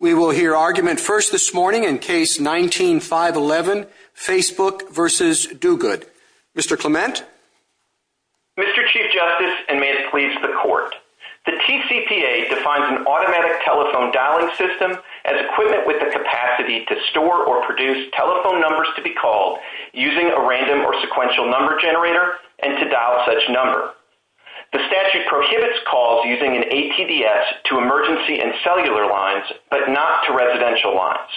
We will hear argument first this morning in Case 19-511, Facebook v. Duguid. Mr. Clement? Mr. Chief Justice, and may it please the Court, the TCPA defines an automatic telephone dialing system as equivalent with the capacity to store or produce telephone numbers to be called using a random or sequential number generator and to dial such number. The statute prohibits calls using an ATDS to emergency and cellular lines, but not to residential lines.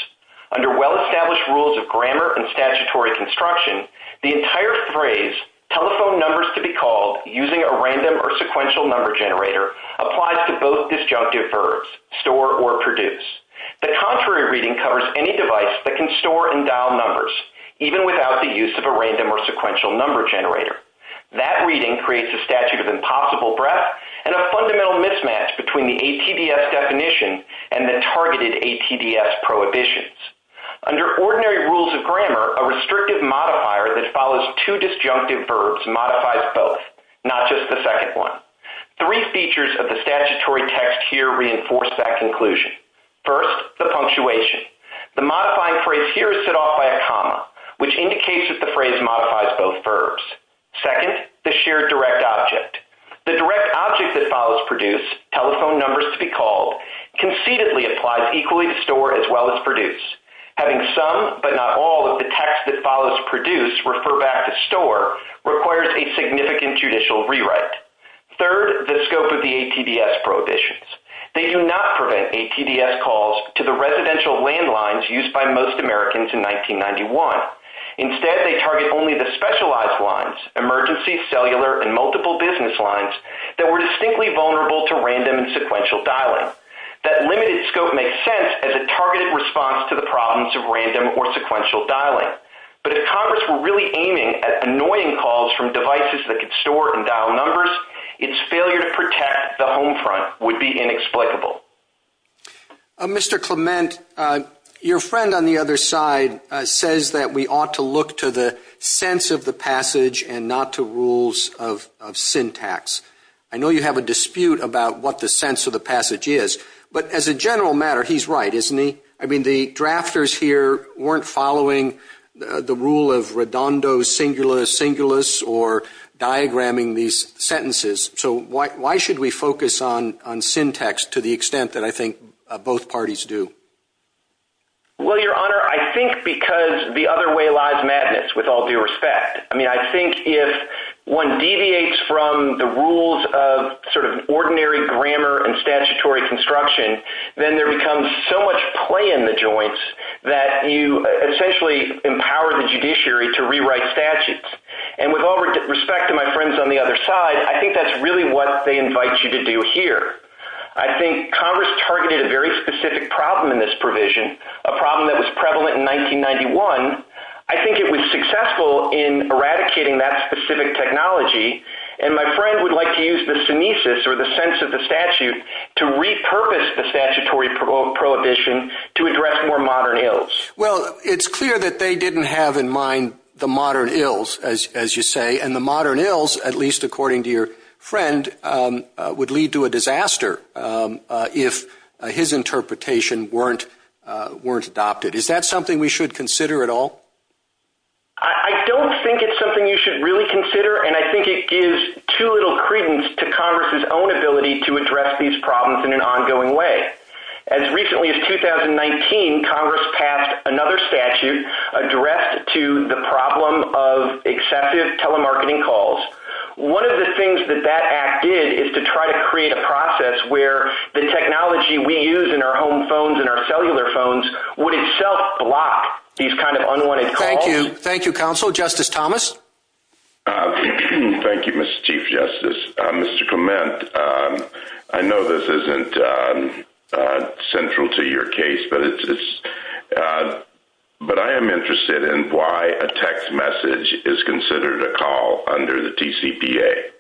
Under well-established rules of grammar and statutory construction, the entire phrase, telephone numbers to be called using a random or sequential number generator, applies to both disjunctive verbs, store or produce. The contrary reading covers any device that can store and dial numbers, even without the use of a random or sequential number generator. That reading creates a statute of impossible breadth and a fundamental mismatch between the ATDS definition and the targeted ATDS prohibitions. Under ordinary rules of grammar, a restrictive modifier that follows two disjunctive verbs modifies both, not just the second one. Three features of the statutory text here reinforce that conclusion. First, the punctuation. The modifying phrase here is set off by a comma, which indicates that the phrase modifies both verbs. Second, the shared direct object. The direct object that follows produce, telephone numbers to be called, concededly applies equally to store as well as produce. Having some, but not all, of the text that follows produce refer back to store requires a significant judicial rewrite. Third, the scope of the ATDS prohibitions. They do not prevent ATDS calls to the residential landlines used by most Americans in 1991. Instead, they target only the specialized lines, emergency, cellular, and multiple business lines that were distinctly vulnerable to random and sequential dialing. That limited scope makes sense as a targeted response to the problems of random or sequential dialing. But if Congress were really aiming at annoying calls from devices that could store or dial numbers, its failure to protect the home front would be inexplicable. Mr. Clement, your friend on the other side says that we ought to look to the sense of the passage and not to rules of syntax. I know you have a dispute about what the sense of the passage is, but as a general matter, he's right, isn't he? I mean, the drafters here weren't following the rule of redondo, singula, singulus, or diagramming these sentences. So why should we focus on syntax to the extent that I think both parties do? Well, your honor, I think because the other way lies madness, with all due respect. I mean, I think if one deviates from the rules of sort of ordinary grammar and statutory construction, then there becomes so much play in the joints that you essentially empower the judiciary to rewrite statutes. And with all respect to my friends on the other side, I think that's really what they invite you to do here. I think Congress targeted a very specific problem in this provision, a problem that was prevalent in 1991. I think it was successful in eradicating that specific technology, and my friend would like to use the senescence or the sense of the statute to repurpose the statutory prohibition to address more modern ills. As you say, and the modern ills, at least according to your friend, would lead to a disaster if his interpretation weren't adopted. Is that something we should consider at all? I don't think it's something you should really consider, and I think it gives too little credence to Congress's own ability to address these problems in an ongoing way. As recently as 2019, Congress passed another statute addressed to the problem of accepted telemarketing calls. One of the things that that act did is to try to create a process where the technology we use in our home phones and our cellular phones would itself block these kind of unwanted calls. Thank you. Thank you, Counsel. Justice Thomas? Thank you, Mr. Chief Justice. Mr. Clement, I know this isn't central to your case, but I am interested in why a text message is considered a call under the TCPA.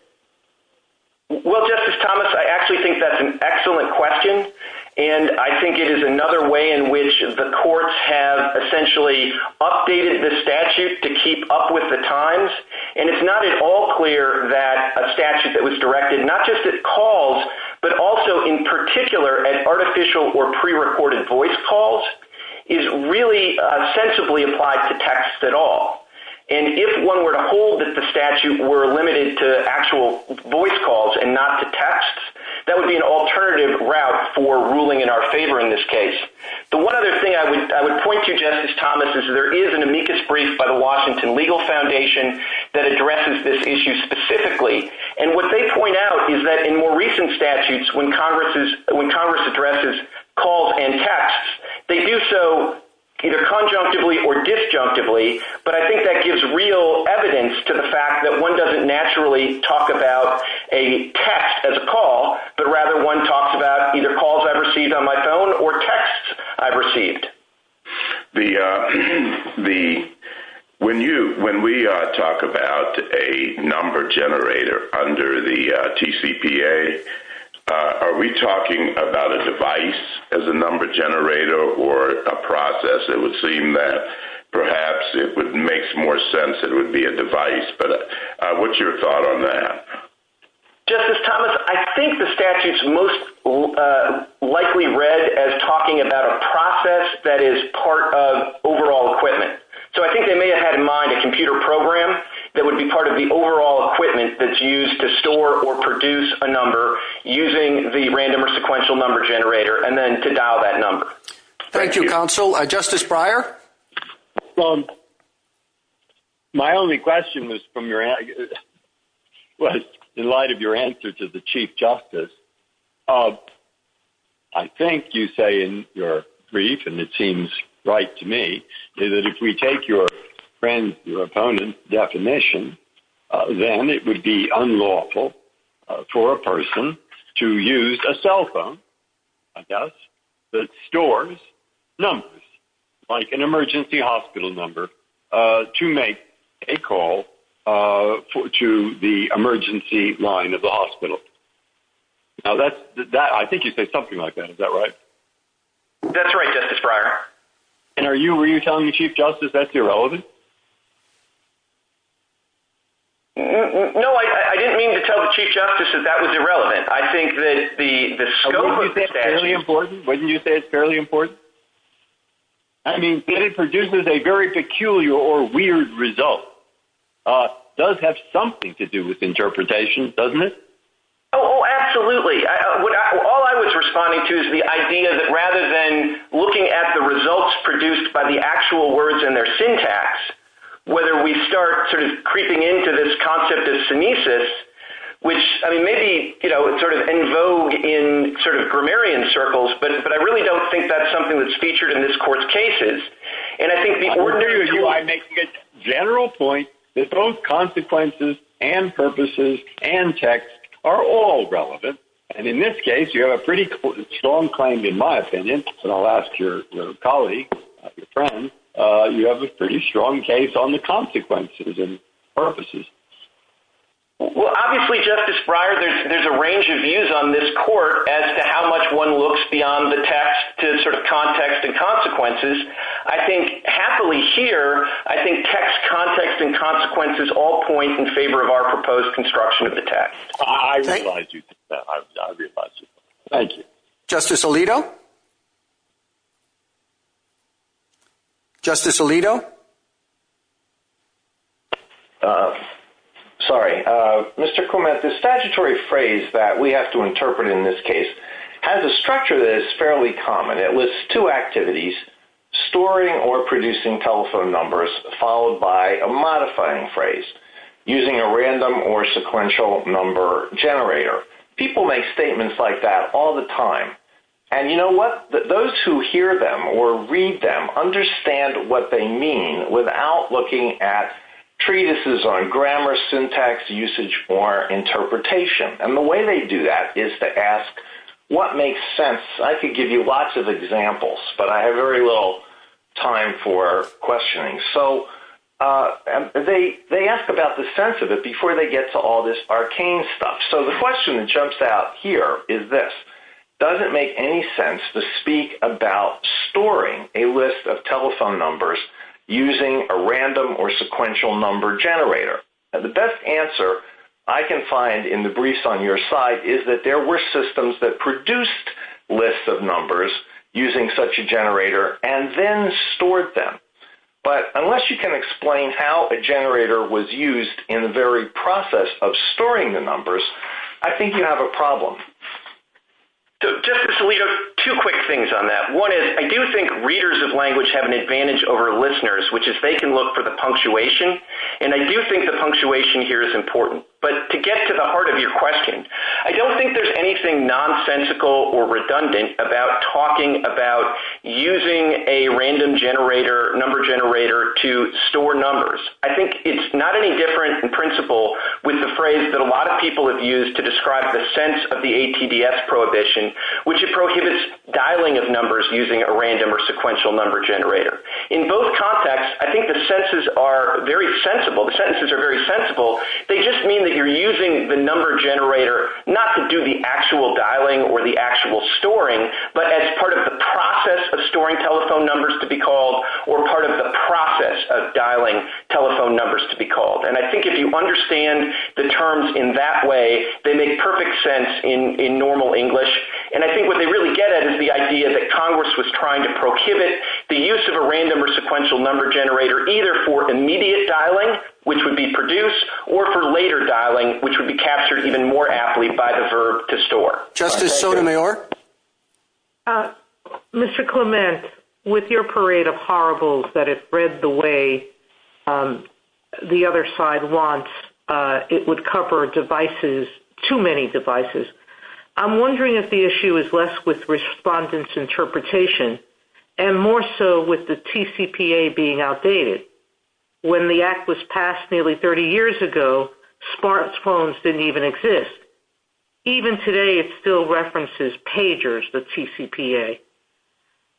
Well, Justice Thomas, I actually think that's an excellent question, and I think it is another way in which the courts have essentially updated the statute to keep up with the times. And it's not at all clear that a statute that was directed not just at calls, but also in particular at artificial or prerecorded voice calls, is really sensibly applied to text at all. And if one were to hold that the statute were limited to actual voice calls and not to text, that would be an alternative route for ruling in our favor in this case. The one other thing I would point to, Justice Thomas, is there is an amicus brief by the Washington Legal Foundation that addresses this issue specifically. And what they point out is that in more recent statutes, when Congress addresses calls and texts, they do so either conjunctively or disjunctively. But I think that gives real evidence to the fact that one doesn't naturally talk about a text as a call, but rather one talks about either calls I've received on my phone or texts I've received. When we talk about a number generator under the TCPA, are we talking about a device as a number generator or a process? It would seem that perhaps it would make more sense that it would be a device, but what's your thought on that? Justice Thomas, I think the statute's most likely read as talking about a process that is part of overall equipment. So I think they may have had in mind a computer program that would be part of the overall equipment that's used to store or produce a number using the random or sequential number generator and then to dial that number. Thank you, counsel. Justice Breyer? Well, my only question was in light of your answer to the Chief Justice. I think you say in your brief, and it seems right to me, is that if we take your friend's or opponent's definition, then it would be unlawful for a person to use a cell phone, I guess, that stores numbers, like an emergency hospital number, to make a call to the emergency line of the hospital. I think you say something like that. Is that right? That's right, Justice Breyer. And were you telling the Chief Justice that's irrelevant? No, I didn't mean to tell the Chief Justice that that was irrelevant. I think that the scope of the statute… Wouldn't you say it's fairly important? I mean, if it produces a very peculiar or weird result, it does have something to do with interpretation, doesn't it? Oh, absolutely. All I was responding to is the idea that rather than looking at the results produced by the actual words and their syntax, whether we start creeping into this concept of senescence, which may be en vogue in grammarian circles, but I really don't think that's something that's featured in this Court's cases. And I think in order to make a general point that both consequences and purposes and text are all relevant, and in this case you have a pretty strong claim, in my opinion, and I'll ask your colleague, your friend, you have a pretty strong case on the consequences and purposes. Well, obviously, Justice Breyer, there's a range of views on this Court as to how much one looks beyond the text to sort of context and consequences. I think happily here, I think text, context, and consequences all point in favor of our proposed construction of the text. I realize you do. I realize you do. Thank you. Justice Alito? Justice Alito? Sorry. Mr. Kuhlman, the statutory phrase that we have to interpret in this case has a structure that is fairly common. It lists two activities, storing or producing telephone numbers, followed by a modifying phrase, using a random or sequential number generator. People make statements like that all the time. And you know what? Those who hear them or read them understand what they mean without looking at treatises on grammar, syntax, usage, or interpretation. And the way they do that is to ask, what makes sense? I could give you lots of examples, but I have very little time for questioning. So they ask about the sense of it before they get to all this arcane stuff. So the question that jumps out here is this. Does it make any sense to speak about storing a list of telephone numbers using a random or sequential number generator? The best answer I can find in the briefs on your side is that there were systems that produced lists of numbers using such a generator and then stored them. But unless you can explain how a generator was used in the very process of storing the numbers, I think you have a problem. So Justice Alito, two quick things on that. One is, I do think readers of language have an advantage over listeners, which is they can look for the punctuation. And I do think the punctuation here is important. But to get to the heart of your question, I don't think there's anything nonsensical or redundant about talking about using a random number generator to store numbers. I think it's not any different in principle with the phrase that a lot of people have used to describe the sense of the ATDS prohibition, which prohibits dialing of numbers using a random or sequential number generator. In both contexts, I think the sentences are very sensible. They just mean that you're using the number generator not to do the actual dialing or the actual storing, but as part of the process of storing telephone numbers to be called, or part of the process of dialing telephone numbers to be called. And I think if you understand the terms in that way, they make perfect sense in normal English. And I think what they really get at is the idea that Congress was trying to prohibit the use of a random or sequential number generator, either for immediate dialing, which would be produced, or for later dialing, which would be captured even more aptly by the verb to store. Justice Sotomayor? Mr. Clement, with your parade of horribles that it read the way the other side wants, it would cover devices, too many devices. I'm wondering if the issue is less with respondents' interpretation and more so with the TCPA being outdated. When the Act was passed nearly 30 years ago, smart phones didn't even exist. Even today, it still references pagers, the TCPA.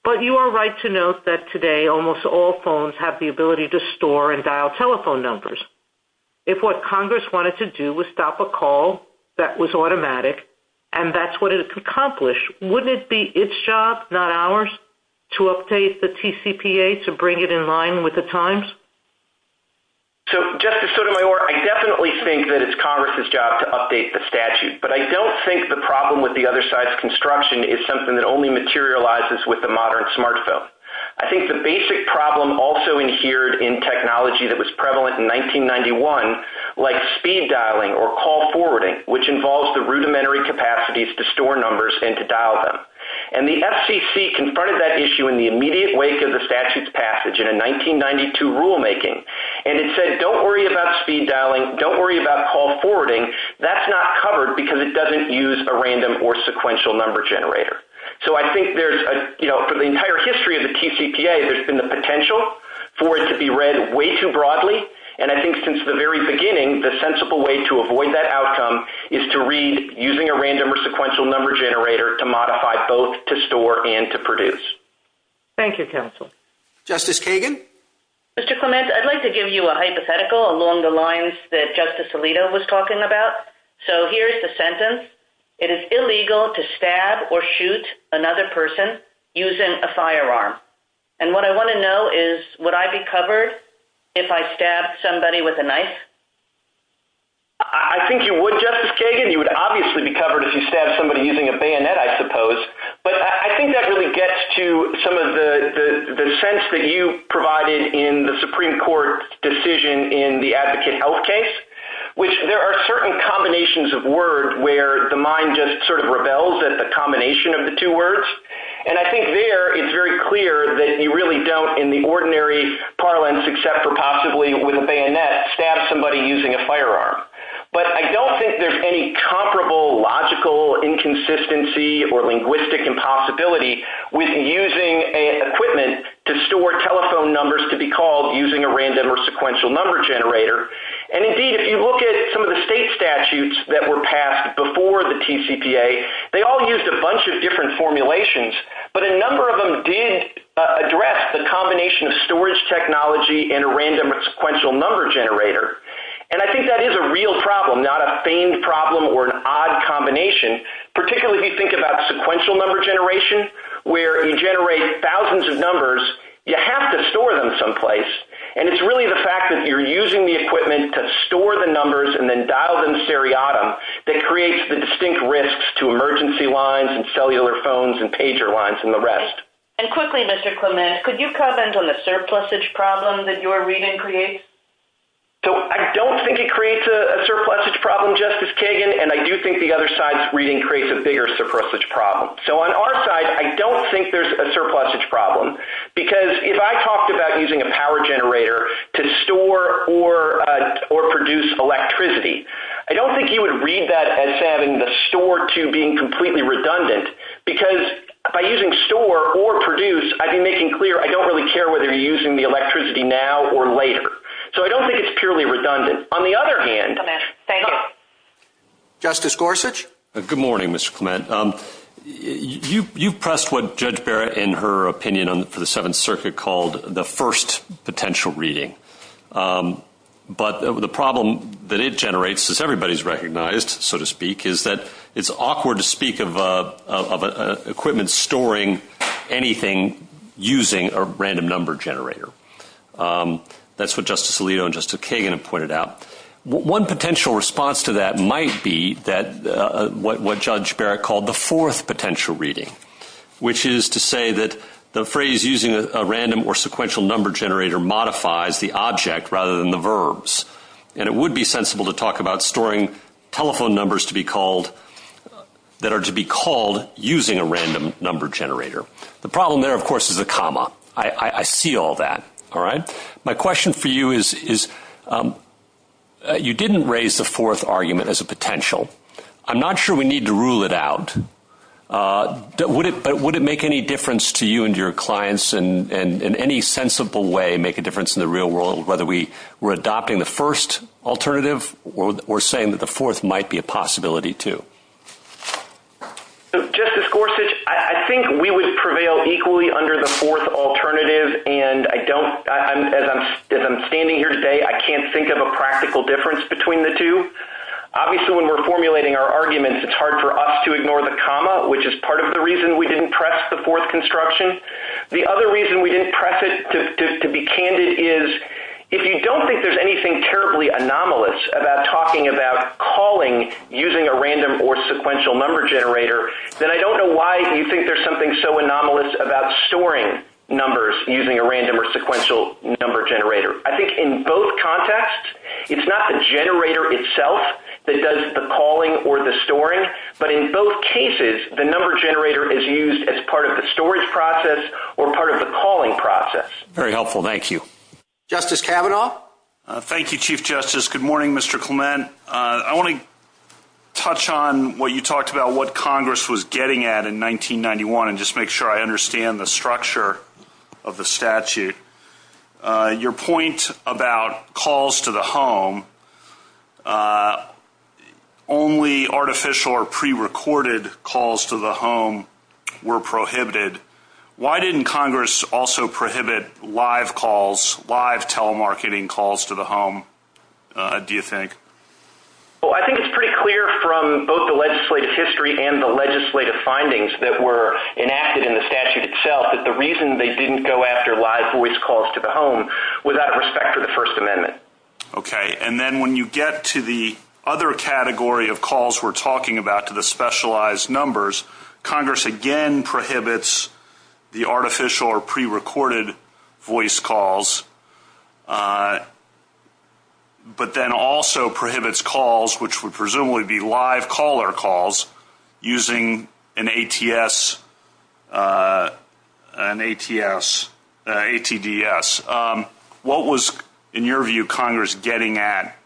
But you are right to note that today almost all phones have the ability to store and dial telephone numbers. If what Congress wanted to do was stop a call that was automatic, and that's what it's accomplished, wouldn't it be its job, not ours, to update the TCPA to bring it in line with the times? So, Justice Sotomayor, I definitely think that it's Congress's job to update the statute. But I don't think the problem with the other side's construction is something that only materializes with the modern smart phone. I think the basic problem also adhered in technology that was prevalent in 1991, like speed dialing or call forwarding, which involves the rudimentary capacities to store numbers and to dial them. And the FCC confronted that issue in the immediate wake of the statute's passage in a 1992 rulemaking. And it said, don't worry about speed dialing, don't worry about call forwarding, that's not covered because it doesn't use a random or sequential number generator. So I think there's, you know, the entire history of the TCPA, there's been the potential for it to be read way too broadly. And I think since the very beginning, the sensible way to avoid that outcome is to read using a random or sequential number generator to modify both to store and to produce. Thank you, counsel. Justice Kagan? Mr. Clements, I'd like to give you a hypothetical along the lines that Justice Alito was talking about. So here's the sentence. It is illegal to stab or shoot another person using a firearm. And what I want to know is, would I be covered if I stabbed somebody with a knife? I think you would, Justice Kagan. You would obviously be covered if you stabbed somebody using a bayonet, I suppose. But I think that really gets to some of the sense that you provided in the Supreme Court decision in the Advocate Health case, which there are certain combinations of word where the mind just sort of rebels at the combination of the two words. And I think there it's very clear that you really don't in the ordinary parlance except for possibly with a bayonet, stab somebody using a firearm. But I don't think there's any comparable logical inconsistency or linguistic impossibility with using equipment to store telephone numbers to be called using a random or sequential number generator. And indeed, if you look at some of the state statutes that were passed before the TCPA, they all used a bunch of different formulations, but a number of them did address the combination of storage technology and a random or sequential number generator. And I think that is a real problem, not a famed problem or an odd combination, particularly if you think about sequential number generation, where you generate thousands of numbers, you have to store them someplace. And it's really the fact that you're using the equipment to store the numbers and then dial them seriatim that creates the distinct risks to emergency lines and cellular phones and pager lines and the rest. And quickly, Mr. Clement, could you comment on the surplusage problem that your reading creates? So I don't think it creates a surplusage problem, Justice Kagan, and I do think the other side's reading creates a bigger surplusage problem. So on our side, I don't think there's a surplusage problem. Because if I talked about using a power generator to store or produce electricity, I don't think you would read that as having the store to being completely redundant, because by using store or produce, I've been making clear I don't really care whether you're using the electricity now or later. So I don't think it's purely redundant. On the other hand, Justice Gorsuch? Good morning, Mr. Clement. You pressed what Judge Barrett, in her opinion for the Seventh Circuit, called the first potential reading. But the problem that it generates, as everybody's recognized, so to speak, is that it's awkward to speak of equipment storing anything using a random number generator. That's what Justice Alito and Justice Kagan have pointed out. One potential response to that might be what Judge Barrett called the fourth potential reading, which is to say that the phrase using a random or sequential number generator modifies the object rather than the verbs. And it would be sensible to talk about storing telephone numbers that are to be called using a random number generator. The problem there, of course, is a comma. I see all that. My question for you is, you didn't raise the fourth argument as a potential. I'm not sure we need to rule it out. But would it make any difference to you and your clients in any sensible way, make a difference in the real world, whether we're adopting the first alternative or saying that the fourth might be a possibility, too? Justice Gorsuch, I think we would prevail equally under the fourth alternative. And as I'm standing here today, I can't think of a practical difference between the two. Obviously, when we're formulating our arguments, it's hard for us to ignore the comma, which is part of the reason we didn't press the fourth construction. The other reason we didn't press it, to be candid, is if you don't think there's anything terribly anomalous about talking about calling using a random or sequential number generator, then I don't know why you think there's something so anomalous about storing numbers using a random or sequential number generator. I think in both contexts, it's not the generator itself that does the calling or the storing, but in both cases, the number generator is used as part of the storage process or part of the calling process. Very helpful. Thank you. Justice Kavanaugh? Thank you, Chief Justice. Good morning, Mr. Clement. I want to touch on what you talked about, what Congress was getting at in 1991, and just make sure I understand the structure of the statute. Your point about calls to the home, only artificial or prerecorded calls to the home were prohibited. Why didn't Congress also prohibit live calls, live telemarketing calls to the home, do you think? I think it's pretty clear from both the legislative history and the legislative findings that were enacted in the statute itself that the reason they didn't go after live voice calls to the home was out of respect for the First Amendment. And then when you get to the other category of calls we're talking about, to the specialized numbers, Congress again prohibits the artificial or prerecorded voice calls, but then also prohibits calls which would presumably be live caller calls using an ATS, an ATDS. What was, in your view, Congress getting at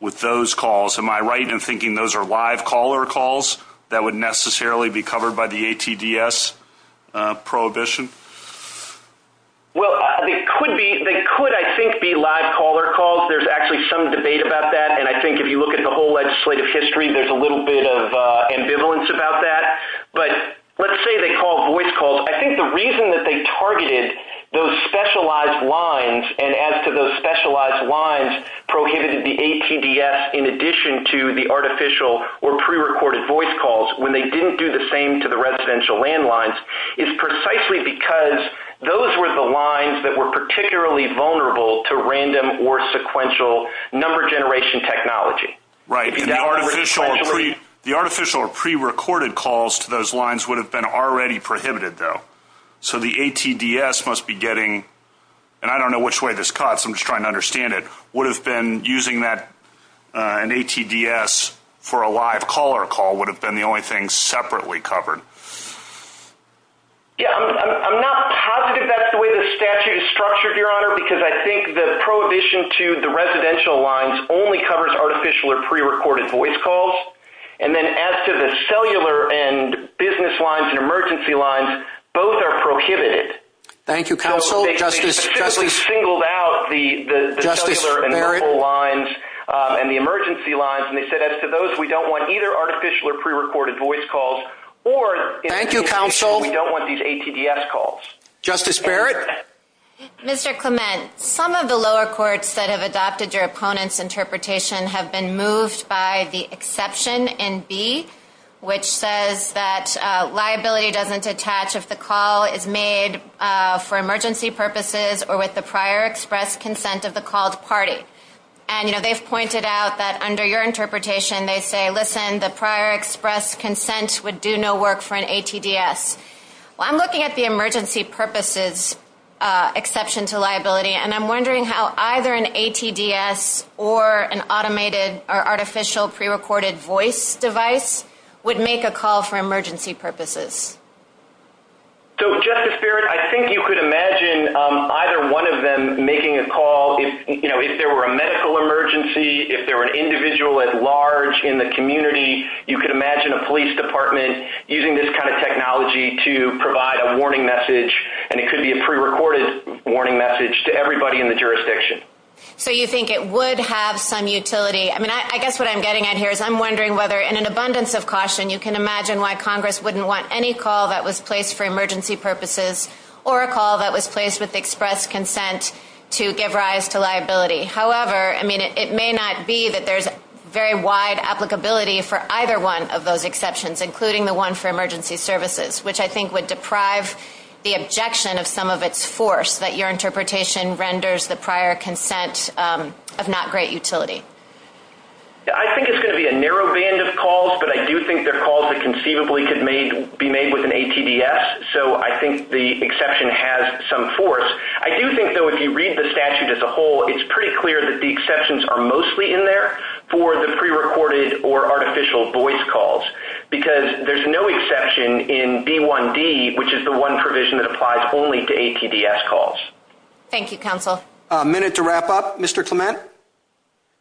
with those calls? Am I right in thinking those are live caller calls that would necessarily be covered by the ATDS prohibition? Well, they could, I think, be live caller calls. There's actually some debate about that. And I think if you look at the whole legislative history, there's a little bit of ambivalence about that. But let's say they called voice calls. I think the reason that they targeted those specialized lines, and as to those specialized lines prohibited the ATDS in addition to the artificial or prerecorded voice calls when they didn't do the same to the residential landlines, is precisely because those were the lines that were particularly vulnerable to random or sequential number generation technology. Right. The artificial or prerecorded calls to those lines would have been already prohibited, though. So the ATDS must be getting, and I don't know which way this cuts, I'm just trying to understand it, would have been using that, an ATDS for a live caller call would have been the only thing separately covered. Yeah, I'm not positive that's the way the statute is structured, Your Honor, because I think the prohibition to the residential lines only covers artificial or prerecorded voice calls. And then as to the cellular and business lines and emergency lines, both are prohibited. Thank you, counsel. They specifically singled out the cellular and mobile lines and the emergency lines, and they said as to those, we don't want either artificial or prerecorded voice calls, or... Thank you, counsel. ...we don't want these ATDS calls. Justice Barrett? Mr. Clement, some of the lower courts that have adopted your opponent's interpretation have been moved by the exception in B, which says that liability doesn't attach if the call is made for emergency purposes or with the prior express consent of the called party. And, you know, they've pointed out that under your interpretation, they say, listen, the prior express consent would do no work for an ATDS. Well, I'm looking at the emergency purposes exception to liability, and I'm wondering how either an ATDS or an automated or artificial prerecorded voice device would make a call for emergency purposes. So, Justice Barrett, I think you could imagine either one of them making a call. You know, if there were a medical emergency, if there were an individual at large in the community, you could imagine a police department using this kind of technology to provide a warning message, and it could be a prerecorded warning message to everybody in the jurisdiction. So you think it would have some utility. I mean, I guess what I'm getting at here is I'm wondering whether, in an abundance of caution, you can imagine why Congress wouldn't want any call that was placed for emergency purposes or a call that was placed with express consent to give rise to liability. However, I mean, it may not be that there's very wide applicability for either one of those exceptions, including the one for emergency services, which I think would deprive the objection of some of its force, that your interpretation renders the prior consent of not great utility. I think it's going to be a narrow band of calls, but I do think they're calls that conceivably could be made with an ATDS, so I think the exception has some force. I do think, though, if you read the statute as a whole, it's pretty clear that the exceptions are mostly in there for the prerecorded or artificial voice calls because there's no exception in D1D, which is the one provision that applies only to ATDS calls. Thank you, Counsel. A minute to wrap up. Mr. Clement?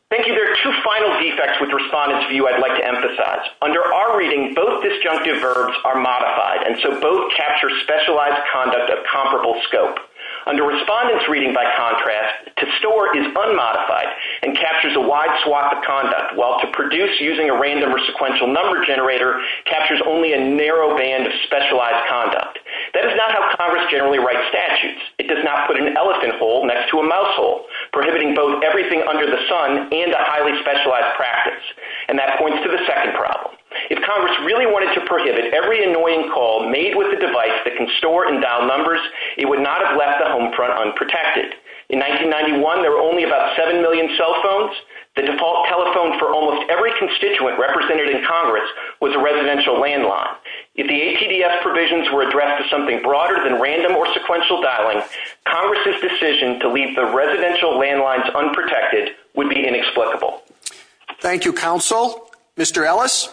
Thank you. There are two final defects with Respondent's View I'd like to emphasize. Under our reading, both disjunctive verbs are modified, and so both capture specialized conduct of comparable scope. Under Respondent's Reading, by contrast, to store is unmodified and captures a wide swap of conduct, while to produce using a random or sequential number generator captures only a narrow band of specialized conduct. That is not how Congress generally writes statutes. It does not put an elephant hole next to a mouse hole, prohibiting both everything under the sun and a highly specialized practice, and that points to the second problem. If Congress really wanted to prohibit every annoying call made with a device that can store and dial numbers, it would not have left the home front unprotected. In 1991, there were only about 7 million cell phones. The default telephone for almost every constituent represented in Congress was a residential landline. If the ATDS provisions were addressed to something broader than random or sequential dialing, Congress's decision to leave the residential landlines unprotected would be inexplicable. Thank you, Counsel. Mr. Ellis?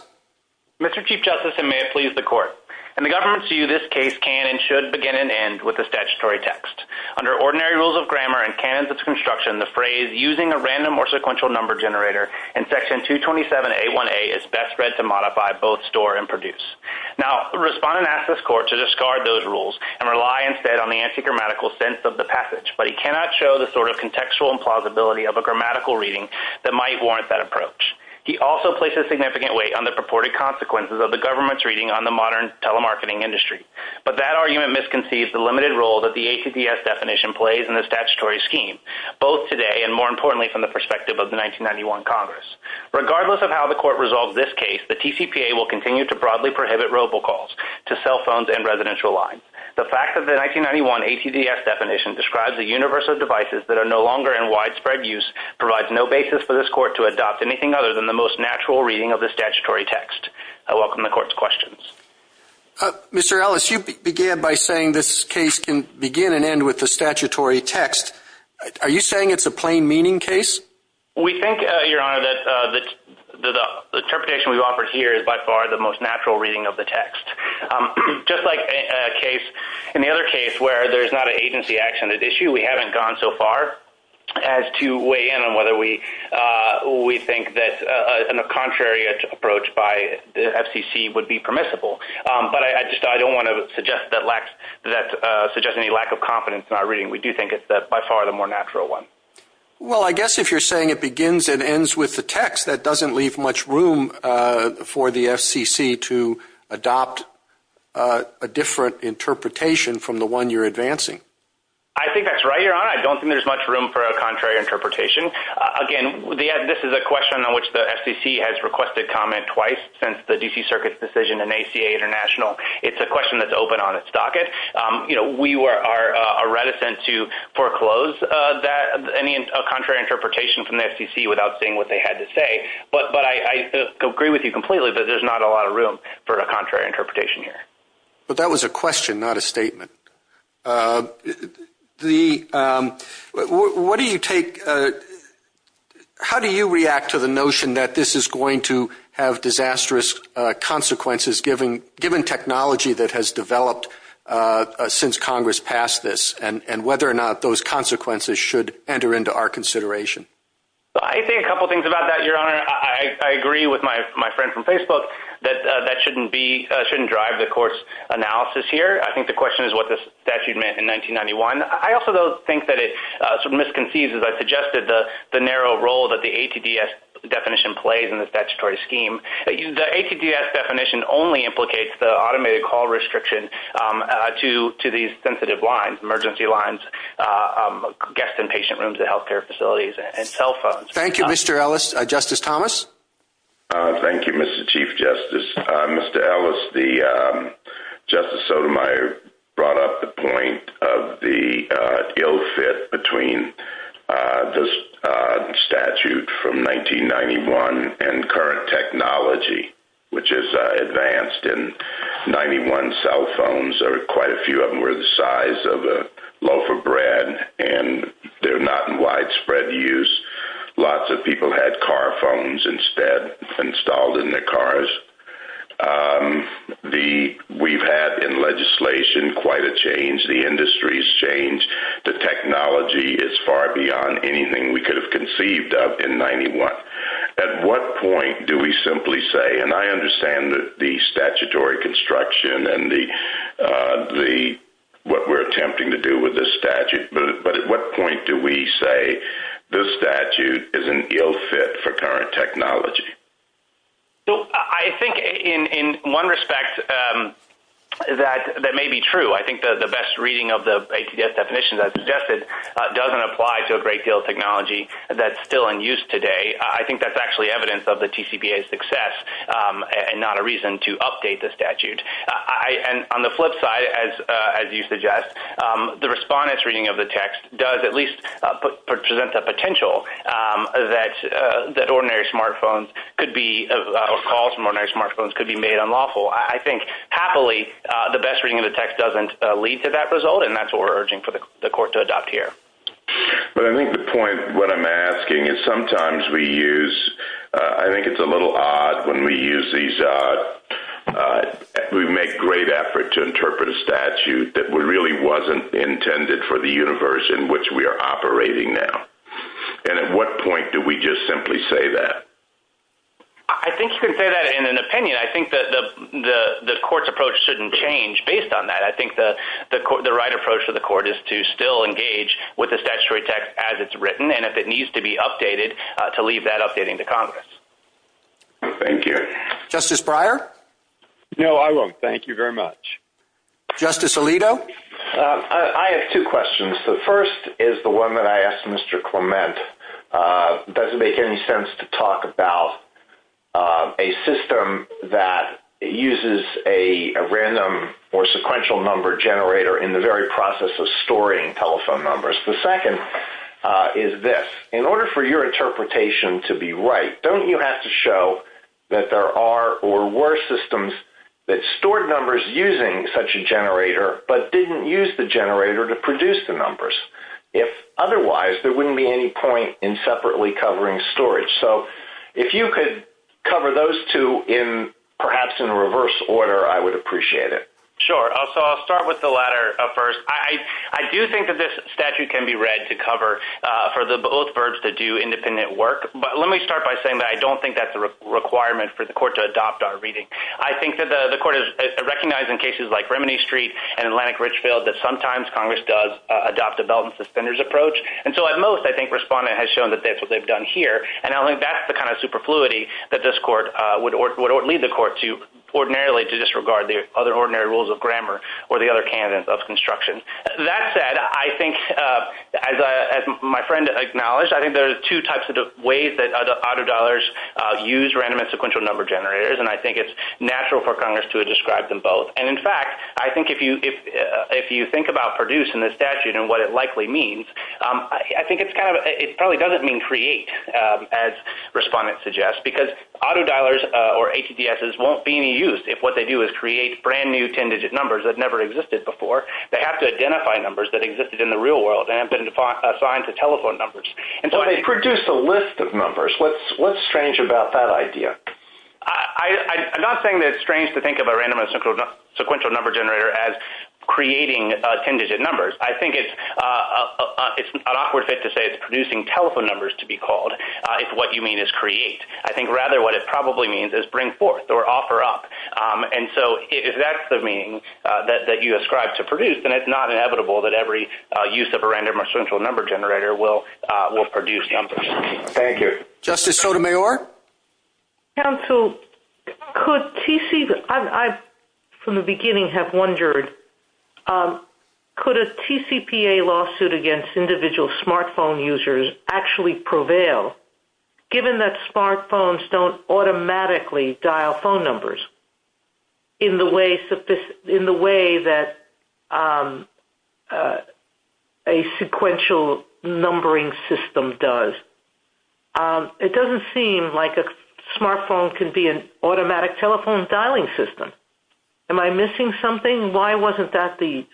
Mr. Chief Justice, and may it please the Court. In the government's view, this case can and should begin and end with a statutory text. Under ordinary rules of grammar and canons of construction, the phrase, using a random or sequential number generator, in Section 227A1A, is best read to modify, both store and produce. Now, the respondent asks this Court to discard those rules and rely instead on the anti-grammatical sense of the passage, but he cannot show the sort of contextual implausibility of a grammatical reading that might warrant that approach. He also places significant weight on the purported consequences of the government's reading on the modern telemarketing industry, but that argument misconceives the limited role that the ATDS definition plays in the statutory scheme, both today and, more importantly, from the perspective of the 1991 Congress. Regardless of how the Court resolves this case, the TCPA will continue to broadly prohibit robocalls to cell phones and residential lines. The fact that the 1991 ATDS definition describes a universe of devices that are no longer in widespread use provides no basis for this Court to adopt anything other than the most natural reading of the statutory text. I welcome the Court's questions. Mr. Ellis, you began by saying this case can begin and end with the statutory text. Are you saying it's a plain-meaning case? We think, Your Honor, that the interpretation we've offered here is by far the most natural reading of the text. Just like in the other case where there's not an agency-accented issue, we haven't gone so far as to weigh in on whether we think that a contrary approach by the FCC would be permissible. But I don't want to suggest any lack of confidence in our reading. We do think it's by far the more natural one. Well, I guess if you're saying it begins and ends with the text, that doesn't leave much room for the FCC to adopt a different interpretation from the one you're advancing. I think that's right, Your Honor. I don't think there's much room for a contrary interpretation. Again, this is a question on which the FCC has requested comment twice since the D.C. Circuit's decision in ACA International. It's a question that's open on its docket. We are reticent to foreclose any contrary interpretation from the FCC without seeing what they had to say. But I agree with you completely that there's not a lot of room for a contrary interpretation here. But that was a question, not a statement. How do you react to the notion that this is going to have disastrous consequences given technology that has developed since Congress passed this and whether or not those consequences should enter into our consideration? I think a couple things about that, Your Honor. I agree with my friend from Facebook that that shouldn't drive the course analysis here. I think the question is what the statute meant in 1991. I also don't think that it's misconceived, as I suggested, the narrow role that the ATDS definition plays in the statutory scheme. The ATDS definition only implicates the automated call restriction to these sensitive lines, emergency lines, guest and patient rooms, the health care facilities, and cell phones. Thank you, Mr. Ellis. Justice Thomas? Thank you, Mr. Chief Justice. Mr. Ellis, Justice Sotomayor brought up the point of the ill fit between the statute from 1991 and current technology, which is advanced. In 91 cell phones, quite a few of them were the size of a loaf of bread, and they're not in widespread use. Lots of people had car phones instead installed in their cars. We've had in legislation quite a change. The industry's changed. The technology is far beyond anything we could have conceived of in 91. At what point do we simply say, and I understand the statutory construction and what we're attempting to do with this statute, but at what point do we say this statute is an ill fit for current technology? I think in one respect that may be true. I think the best reading of the ATDS definition that I suggested doesn't apply to a great deal of technology that's still in use today. I think that's actually evidence of the TCPA's success and not a reason to update the statute. On the flip side, as you suggest, the respondent's reading of the text does at least present the potential that ordinary smartphones could be made unlawful. I think, happily, the best reading of the text doesn't lead to that result, and that's what we're urging for the court to adopt here. I think the point, what I'm asking, is sometimes we use, I think it's a little odd when we use these, we make great effort to interpret a statute that really wasn't intended for the universe in which we are operating now. At what point do we just simply say that? I think you can say that in an opinion. I think the court's approach shouldn't change based on that. I think the right approach for the court is to still engage with the statutory text as it's written, and if it needs to be updated, to leave that updating to Congress. Thank you. Justice Breyer? No, I won't. Thank you very much. Justice Alito? I have two questions. The first is the one that I asked Mr. Clement. It doesn't make any sense to talk about a system that uses a random or sequential number generator in the very process of storing telephone numbers. The second is this. In order for your interpretation to be right, don't you have to show that there are or were systems that stored numbers using such a generator but didn't use the generator to produce the numbers? If otherwise, there wouldn't be any point in separately covering storage. So if you could cover those two perhaps in reverse order, I would appreciate it. Sure. So I'll start with the latter first. I do think that this statute can be read to cover for the bullet words that do independent work, but let me start by saying that I don't think that's a requirement for the court to adopt our reading. I think that the court is recognizing cases like Remini Street and Atlantic Richfield that sometimes Congress does adopt a belt and suspenders approach, and so at most I think Respondent has shown that that's what they've done here, and I think that's the kind of superfluity that this court would leave the court to ordinarily to disregard the other ordinary rules of grammar or the other candidates of construction. That said, I think, as my friend acknowledged, I think there are two types of ways that autodollars use random and sequential number generators, and I think it's natural for Congress to describe them both. And, in fact, I think if you think about produced in the statute and what it likely means, I think it probably doesn't mean create, as Respondent suggests, because autodollars or HDSs won't be any use if what they do is create brand-new ten-digit numbers that never existed before. They have to identify numbers that existed in the real world and assign to telephone numbers. So they produce a list of numbers. What's strange about that idea? I'm not saying that it's strange to think of a random or sequential number generator as creating ten-digit numbers. I think it's an awkward fit to say it's producing telephone numbers, to be called, if what you mean is create. I think rather what it probably means is bring forth or offer up. And so if that's the meaning that you ascribe to produced, then it's not inevitable that every use of a random or sequential number generator will produce numbers. Thank you. Justice Sotomayor? Counsel, I, from the beginning, have wondered, could a TCPA lawsuit against individual smartphone users actually prevail, given that smartphones don't automatically dial phone numbers in the way that a sequential numbering system does? It doesn't seem like a smartphone can be an automatic telephone dialing system. Am I missing something? Why wasn't that the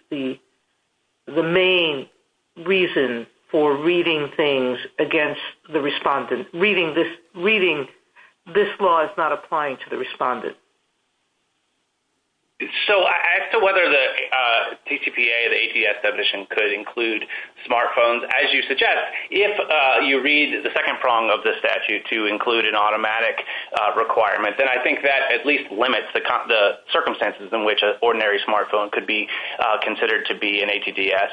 main reason for reading things against the respondent? Reading this law is not applying to the respondent. So as to whether the TCPA, the ATDS definition, could include smartphones, as you suggest, if you read the second prong of the statute to include an automatic requirement, then I think that at least limits the circumstances in which an ordinary smartphone could be considered to be an ATDS.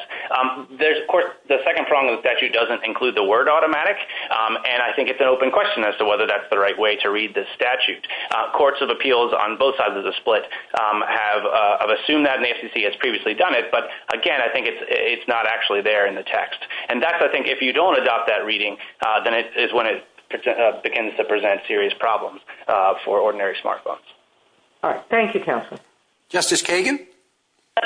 The second prong of the statute doesn't include the word automatic, and I think it's an open question as to whether that's the right way to read the statute. Courts of Appeals on both sides of the split have assumed that, and the FCC has previously done it, but again, I think it's not actually there in the text. And that's, I think, if you don't adopt that reading, then it's when it begins to present serious problems for ordinary smartphones. All right. Thank you, counsel. Justice Kagan?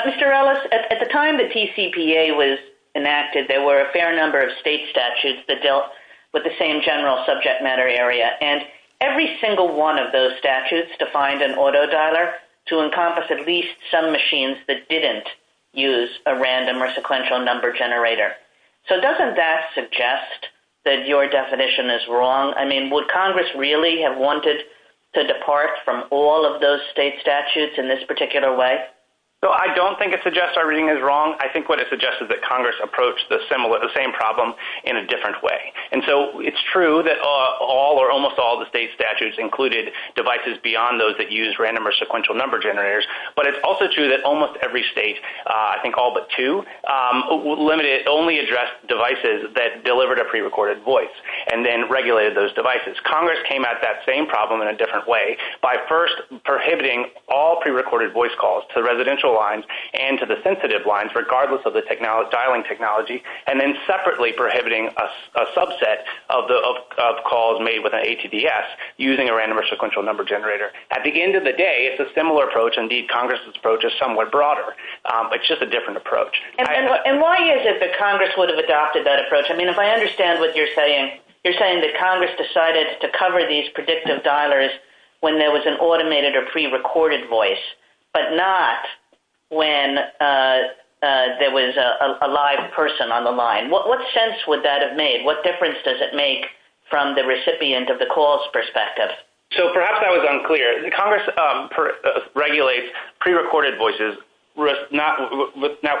Mr. Ellis, at the time the TCPA was enacted, there were a fair number of state statutes that dealt with the same general subject matter area, and every single one of those statutes defined an auto dialer to encompass at least some machines that didn't use a random or sequential number generator. So doesn't that suggest that your definition is wrong? I mean, would Congress really have wanted to depart from all of those state statutes in this particular way? Well, I don't think it suggests everything is wrong. I think what it suggests is that Congress approached the same problem in a different way. And so it's true that all or almost all of the state statutes included devices beyond those that use random or sequential number generators, but it's also true that almost every state, I think all but two, only addressed devices that delivered a prerecorded voice and then regulated those devices. Congress came at that same problem in a different way by first prohibiting all prerecorded voice calls to residential lines and to the sensitive lines, regardless of the dialing technology, and then separately prohibiting a subset of calls made with an ATDS using a random or sequential number generator. At the end of the day, it's a similar approach. Indeed, Congress' approach is somewhat broader. It's just a different approach. And why is it that Congress would have adopted that approach? I mean, if I understand what you're saying, you're saying that Congress decided to cover these predictive dialers when there was an automated or prerecorded voice, but not when there was a live person on the line. What sense would that have made? What difference does it make from the recipient of the calls perspective? So perhaps that was unclear. Congress regulates prerecorded voices with not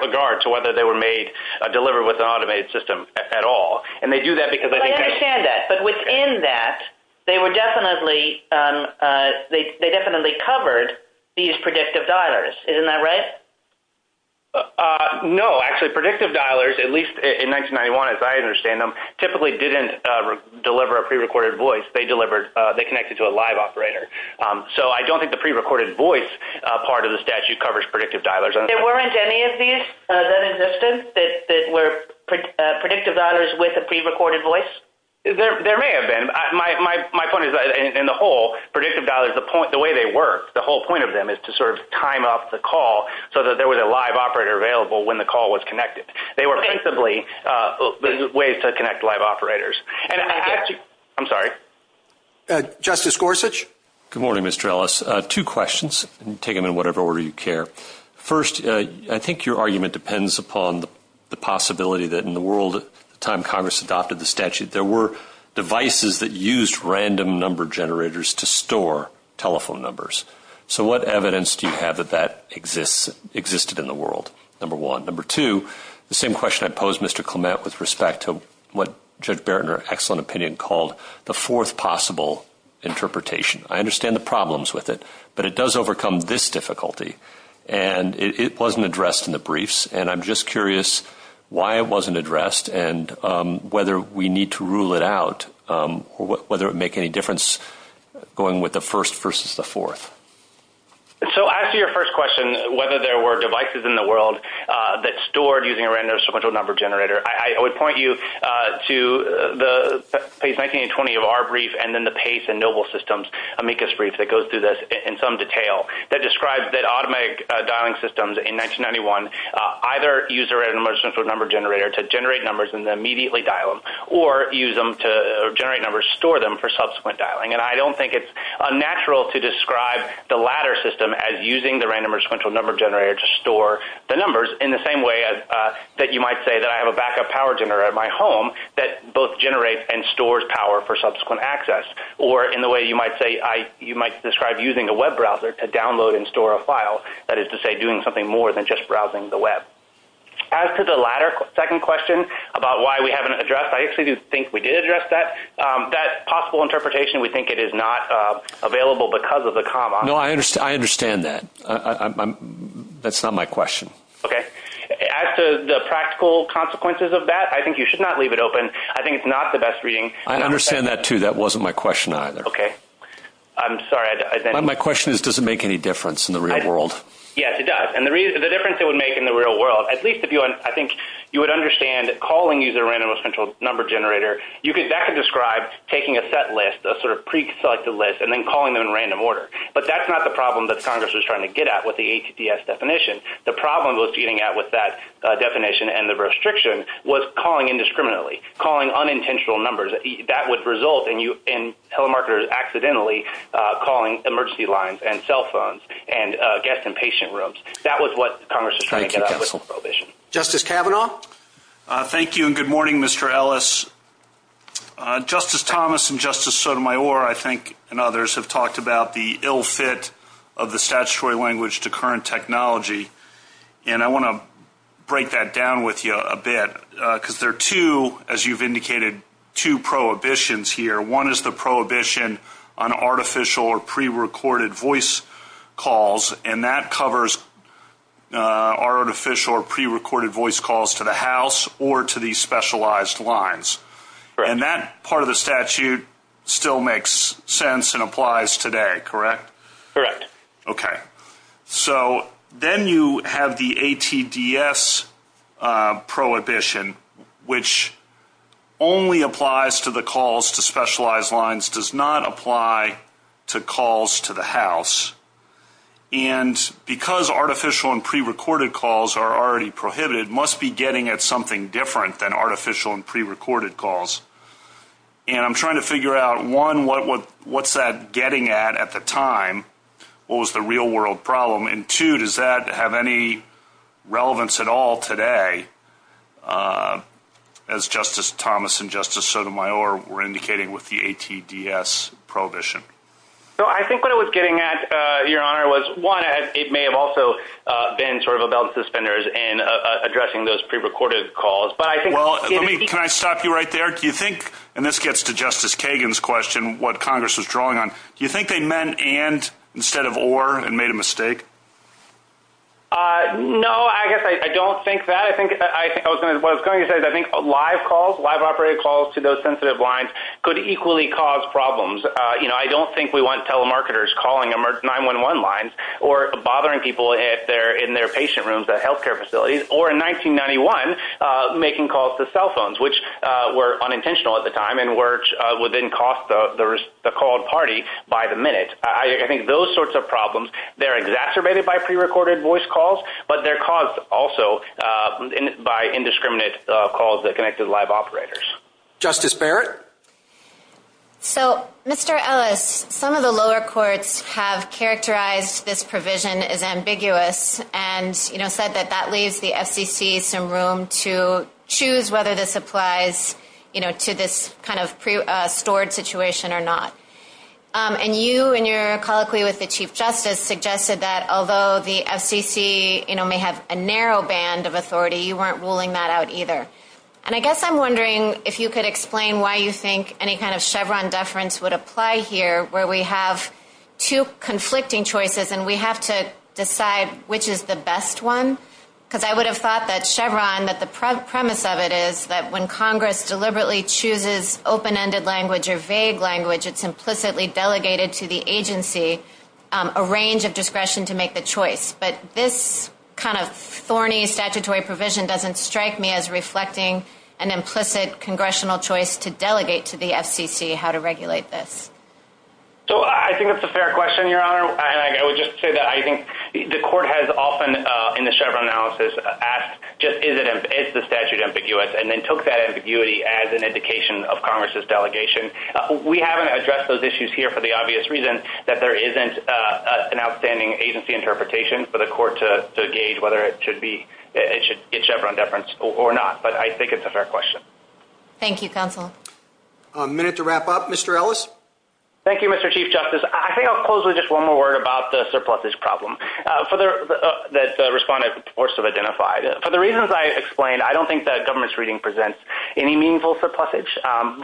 regard to whether they were made, delivered with an automated system at all. And they do that because they think they can. I understand that. But within that, they definitely covered these predictive dialers. Isn't that right? No. Actually, predictive dialers, at least in 1991 as I understand them, typically didn't deliver a prerecorded voice. They connected to a live operator. So I don't think the prerecorded voice part of the statute covers predictive dialers. There weren't any of these that existed that were predictive dialers with a prerecorded voice? There may have been. My point is, in the whole, predictive dialers, the way they work, the whole point of them is to sort of time off the call so that there was a live operator available when the call was connected. They were basically ways to connect live operators. I'm sorry. Justice Gorsuch? Good morning, Mr. Ellis. Two questions. Take them in whatever order you care. First, I think your argument depends upon the possibility that in the world at the time Congress adopted the statute, there were devices that used random number generators to store telephone numbers. So what evidence do you have that that existed in the world, number one? Number two, the same question I posed, Mr. Clement, with respect to what Judge Barrett, in her excellent opinion, called the fourth possible interpretation. I understand the problems with it, but it does overcome this difficulty, and it wasn't addressed in the briefs, and I'm just curious why it wasn't addressed and whether we need to rule it out, or whether it would make any difference going with the first versus the fourth. So as to your first question, whether there were devices in the world that stored using a random number generator, I would point you to the page 19 and 20 of our brief, and then the Pace and Noble Systems amicus brief that goes through this in some detail that describes that automatic dialing systems in 1991 either use a random or sequential number generator to generate numbers and then immediately dial them, or use them to generate numbers, store them for subsequent dialing. And I don't think it's unnatural to describe the latter system as using the random or sequential number generator to store the numbers in the same way that you might say that I have a backup power generator at my home that both generates and stores power for subsequent access, or in the way you might describe using a web browser to download and store a file. That is to say doing something more than just browsing the web. As to the latter second question about why we haven't addressed, I actually do think we did address that. That possible interpretation, we think it is not available because of the comma. No, I understand that. That's not my question. Okay. As to the practical consequences of that, I think you should not leave it open. I think it's not the best reading. I understand that too. That wasn't my question either. Okay. I'm sorry. My question is, does it make any difference in the real world? Yes, it does. And the difference it would make in the real world, at least I think you would understand that calling using a random or sequential number generator, that could describe taking a set list, a sort of pre-selected list, and then calling them in random order. But that's not the problem that Congress was trying to get at with the HDS definition. The problem it was getting at with that definition and the restriction was calling indiscriminately, calling unintentional numbers. That would result in telemarketers accidentally calling emergency lines and cell phones and guest and patient rooms. That was what Congress was trying to get at with the prohibition. Justice Kavanaugh? Thank you and good morning, Mr. Ellis. Justice Thomas and Justice Sotomayor, I think, and others have talked about the ill fit of the statutory language to current technology. And I want to break that down with you a bit because there are two, as you've indicated, two prohibitions here. One is the prohibition on artificial or pre-recorded voice calls. And that covers artificial or pre-recorded voice calls to the house or to the specialized lines. And that part of the statute still makes sense and applies today, correct? Correct. Okay. So then you have the ATDS prohibition, which only applies to the calls to specialized lines, does not apply to calls to the house. And because artificial and pre-recorded calls are already prohibited, must be getting at something different than artificial and pre-recorded calls. And I'm trying to figure out, one, what's that getting at at the time? What was the real world problem? And two, does that have any relevance at all today as Justice Thomas and Justice Sotomayor were indicating with the ATDS prohibition? So I think what it was getting at, Your Honor, was one, it may have also been sort of about suspenders and addressing those pre-recorded calls. Can I stop you right there? Do you think, and this gets to Justice Kagan's question, what Congress was drawing on, do you think they meant and instead of or and made a mistake? No, I guess I don't think that. What I was going to say is I think live calls, live operated calls to those sensitive lines could equally cause problems. You know, I don't think we want telemarketers calling 911 lines or bothering people in their patient rooms at healthcare facilities, or in 1991 making calls to cell phones, which were unintentional at the time and would then cost the call party by the minute. I think those sorts of problems, they're exacerbated by pre-recorded voice calls, but they're caused also by indiscriminate calls that connected live operators. Justice Barrett? So, Mr. Ellis, some of the lower courts have characterized this provision as ambiguous and said that that leaves the FCC some room to choose whether this applies to this kind of stored situation or not. And you, in your colloquy with the Chief Justice, suggested that although the FCC may have a narrow band of authority, you weren't ruling that out either. And I guess I'm wondering if you could explain why you think any kind of Chevron deference would apply here where we have two conflicting choices and we have to decide which is the best one? Because I would have thought that Chevron, that the premise of it is that when Congress deliberately chooses open-ended language or vague language, it's implicitly delegated to the agency a range of discretion to make the choice. But this kind of thorny statutory provision doesn't strike me as reflecting an implicit congressional choice to delegate to the FCC how to regulate this. Your Honor, I would just say that I think the court has often, in the Chevron analysis, asked just is the statute ambiguous and then took that ambiguity as an indication of Congress's delegation. We haven't addressed those issues here for the obvious reason that there isn't an outstanding agency interpretation for the court to gauge whether it should be a Chevron deference or not. But I think it's a fair question. Thank you, counsel. A minute to wrap up. Mr. Ellis? Thank you, Mr. Chief Justice. I think I'll close with just one more word about the surplusage problem that Respondent was forced to identify. For the reasons I explained, I don't think that government's reading presents any meaningful surplusage.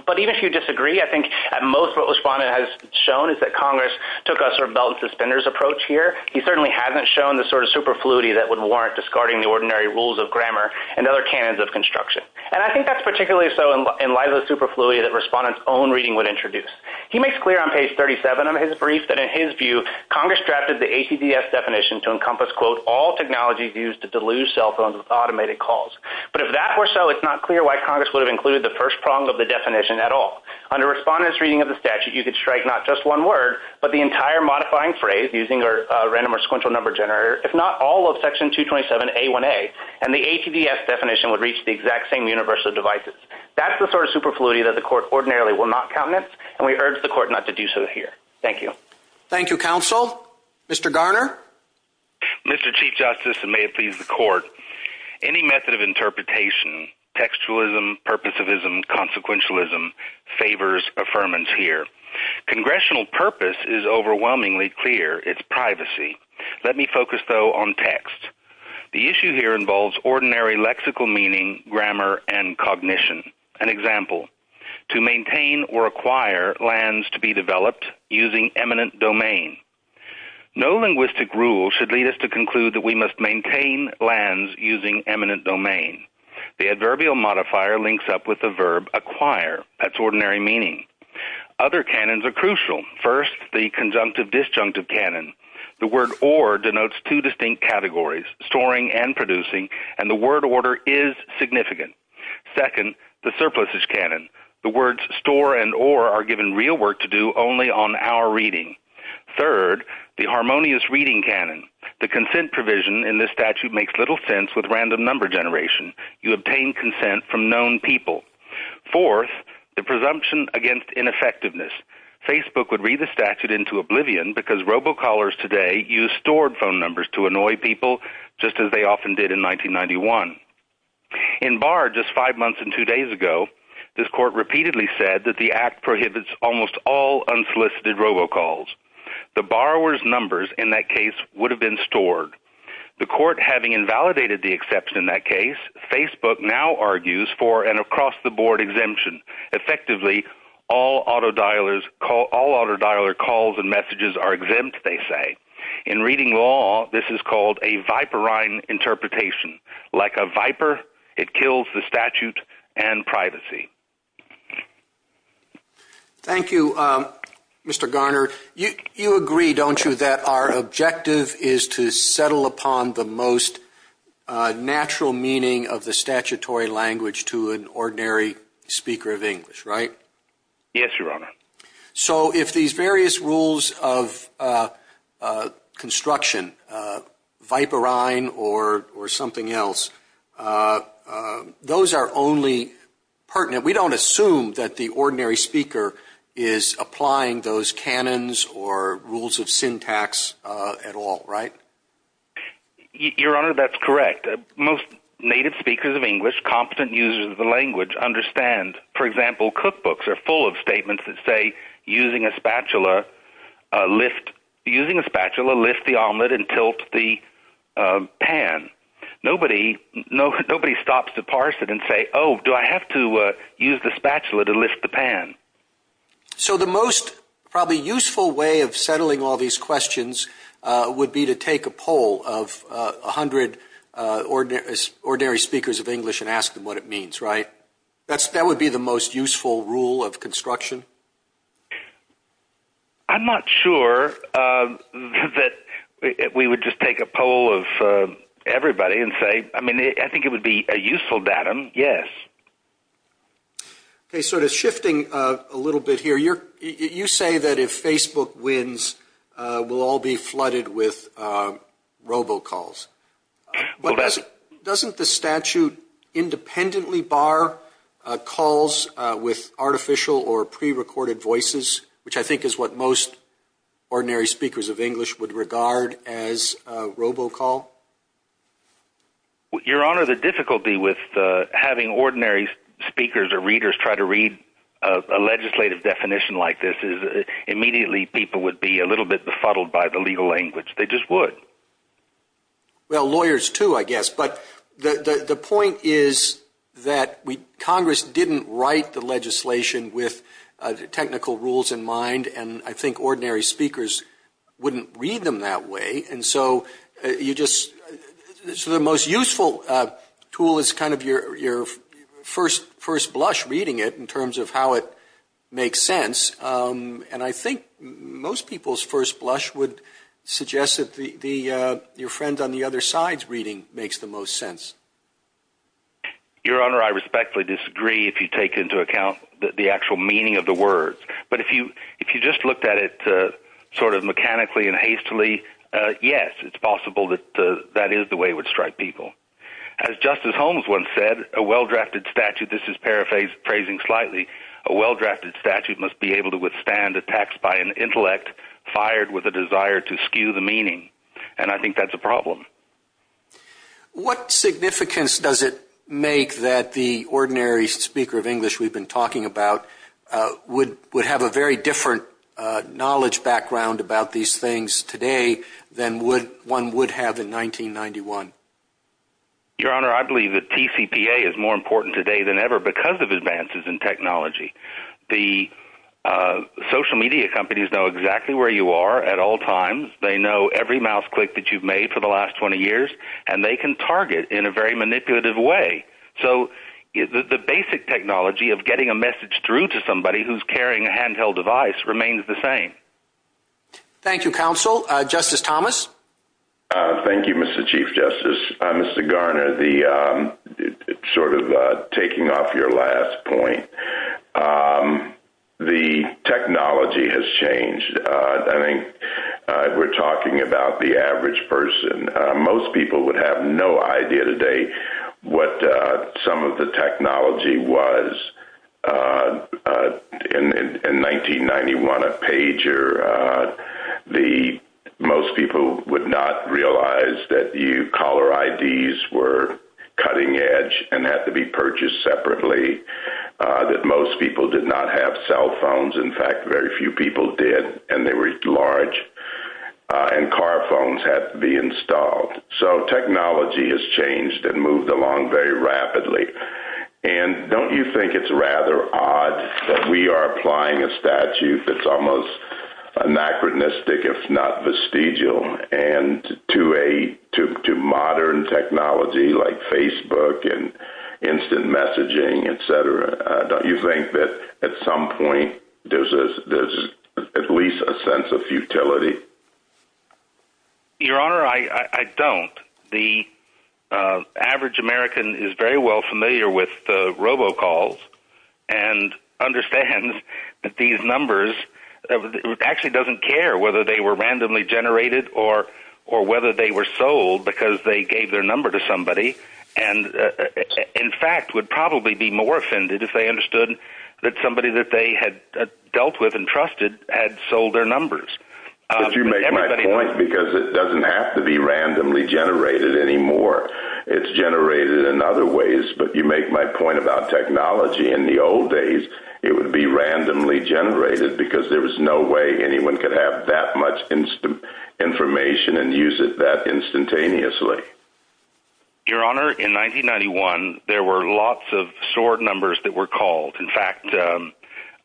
But even if you disagree, I think at most what Respondent has shown is that Congress took a sort of belt and suspenders approach here. He certainly hasn't shown the sort of superfluity that would warrant discarding the ordinary rules of grammar and other canons of construction. And I think that's particularly so in light of the superfluity that Respondent's own reading would introduce. He makes clear on page 37 of his brief that in his view, Congress drafted the ATDS definition to encompass, quote, all technologies used to deluge cell phones with automated calls. But if that were so, it's not clear why Congress would have included the first prong of the definition at all. Under Respondent's reading of the statute, you could strike not just one word, but the entire modifying phrase using a random or sequential number generator, if not all of Section 227A1A, and the ATDS definition would reach the exact same universe of devices. That's the sort of superfluity that the Court ordinarily will not comment, and we urge the Court not to do so here. Thank you. Thank you, Counsel. Mr. Garner? Mr. Chief Justice, and may it please the Court, any method of interpretation, textualism, purposivism, consequentialism, favors affirmance here. Congressional purpose is overwhelmingly clear. It's privacy. Let me focus, though, on text. The issue here involves ordinary lexical meaning, grammar, and cognition. An example, to maintain or acquire lands to be developed using eminent domain. No linguistic rule should lead us to conclude that we must maintain lands using eminent domain. The adverbial modifier links up with the verb acquire. That's ordinary meaning. Other canons are crucial. First, the conjunctive-disjunctive canon. The word or denotes two distinct categories, storing and producing, and the word order is significant. Second, the surpluses canon. The words store and or are given real work to do only on our reading. Third, the harmonious reading canon. The consent provision in this statute makes little sense with random number generation. You obtain consent from known people. Fourth, the presumption against ineffectiveness. Facebook would read the statute into oblivion because robocallers today use stored phone numbers to annoy people, just as they often did in 1991. In Barr, just five months and two days ago, this court repeatedly said that the act prohibits almost all unsolicited robocalls. The borrower's numbers in that case would have been stored. The court, having invalidated the exception in that case, Facebook now argues for an across-the-board exemption. Effectively, all autodialer calls and messages are exempt, they say. In reading law, this is called a viperine interpretation. Like a viper, it kills the statute and privacy. Thank you, Mr. Garner. You agree, don't you, that our objective is to settle upon the most natural meaning of the statutory language to an ordinary speaker of English, right? Yes, Your Honor. So if these various rules of construction, viperine or something else, those are only pertinent. We don't assume that the ordinary speaker is applying those canons or rules of syntax at all, right? Your Honor, that's correct. Most native speakers of English, competent users of the language, understand. For example, cookbooks are full of statements that say, using a spatula, lift the omelet and tilt the pan. Nobody stops to parse it and say, oh, do I have to use the spatula to lift the pan? So the most probably useful way of settling all these questions would be to take a poll of 100 ordinary speakers of English and ask them what it means, right? That would be the most useful rule of construction. I'm not sure that we would just take a poll of everybody and say, I mean, I think it would be a useful datum, yes. Okay, so just shifting a little bit here, you say that if Facebook wins, we'll all be flooded with robocalls. Doesn't the statute independently bar calls with artificial or prerecorded voices, which I think is what most ordinary speakers of English would regard as a robocall? Your Honor, the difficulty with having ordinary speakers or readers who try to read a legislative definition like this is immediately people would be a little bit befuddled by the legal language. They just would. Well, lawyers too, I guess. But the point is that Congress didn't write the legislation with technical rules in mind, and I think ordinary speakers wouldn't read them that way. And so the most useful tool is kind of your first blush reading it in terms of how it makes sense, and I think most people's first blush would suggest that your friend on the other side's reading makes the most sense. Your Honor, I respectfully disagree if you take into account the actual meaning of the words, but if you just looked at it sort of mechanically and hastily, yes, it's possible that that is the way it would strike people. As Justice Holmes once said, a well-drafted statute, this is paraphrasing slightly, a well-drafted statute must be able to withstand attacks by an intellect fired with a desire to skew the meaning, and I think that's a problem. What significance does it make that the ordinary speaker of English we've been talking about would have a very different knowledge background about these things today than one would have in 1991? Your Honor, I believe that TCPA is more important today than ever because of advances in technology. The social media companies know exactly where you are at all times. They know every mouse click that you've made for the last 20 years, and they can target in a very manipulative way. So the basic technology of getting a message through to somebody who's carrying a handheld device remains the same. Thank you, counsel. Justice Thomas? Thank you, Mr. Chief Justice. Mr. Garner, sort of taking off your last point, the technology has changed. I think we're talking about the average person. Most people would have no idea today what some of the technology was. In 1991, a pager, most people would not realize that caller IDs were cutting edge and had to be purchased separately, that most people did not have cell phones. In fact, very few people did, and they were large, and car phones had to be installed. So technology has changed and moved along very rapidly. Don't you think it's rather odd that we are applying a statute that's almost anachronistic, if not vestigial, to modern technology like Facebook and instant messaging, et cetera? Don't you think that at some point there's at least a sense of futility? Your Honor, I don't. The average American is very well familiar with robocalls and understands that these numbers actually doesn't care whether they were randomly generated or whether they were sold because they gave their number to somebody and, in fact, would probably be more offended if they understood that somebody that they had dealt with and trusted had sold their numbers. But you make my point because it doesn't have to be randomly generated anymore. It's generated in other ways, but you make my point about technology in the old days. It would be randomly generated because there was no way anyone could have that much information and use it that instantaneously. Your Honor, in 1991, there were lots of SOAR numbers that were called. In fact,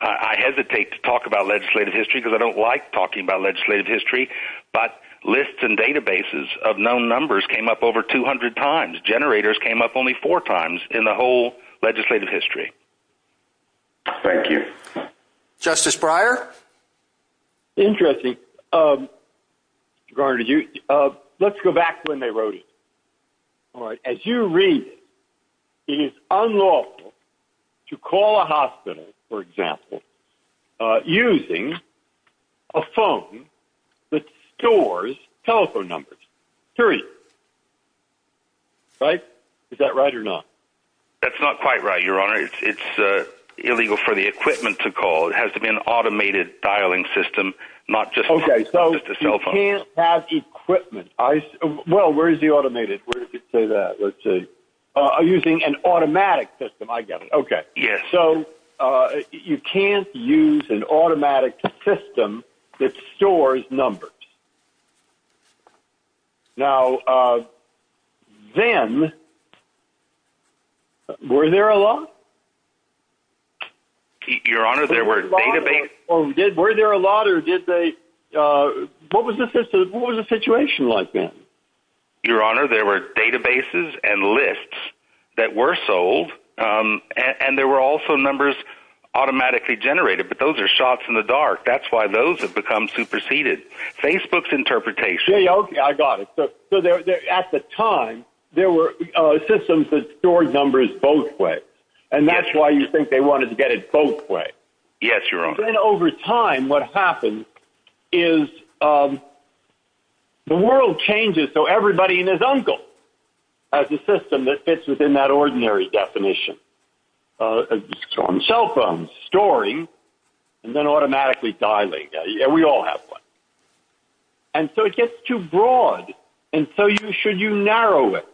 I hesitate to talk about legislative history because I don't like talking about legislative history, but lists and databases of known numbers came up over 200 times. Generators came up only four times in the whole legislative history. Thank you. Justice Breyer? Interesting. Your Honor, let's go back to when they wrote it. As you read it, it is unlawful to call a hospital, for example, using a phone that stores telephone numbers. Period. Right? Is that right or not? That's not quite right, Your Honor. It's illegal for the equipment to call. It has to be an automated dialing system, not just a telephone. Okay, so you can't have equipment. Well, where is the automated? Where did it say that? Let's see. Using an automatic system, I get it. Okay. Yes. So you can't use an automatic system that stores numbers. Now, then, were there a lot? Your Honor, there were databases. Were there a lot? What was the situation like then? Your Honor, there were databases and lists that were sold, and there were also numbers automatically generated. But those are shots in the dark. That's why those have become superseded. Facebook's interpretation. Okay, I got it. At the time, there were systems that stored numbers both ways, and that's why you think they wanted to get it both ways. Yes, Your Honor. Then over time, what happens is the world changes, so everybody and his uncle has a system that fits within that ordinary definition. Cell phones, storing, and then automatically dialing. We all have one. And so it gets too broad, and so should you narrow it?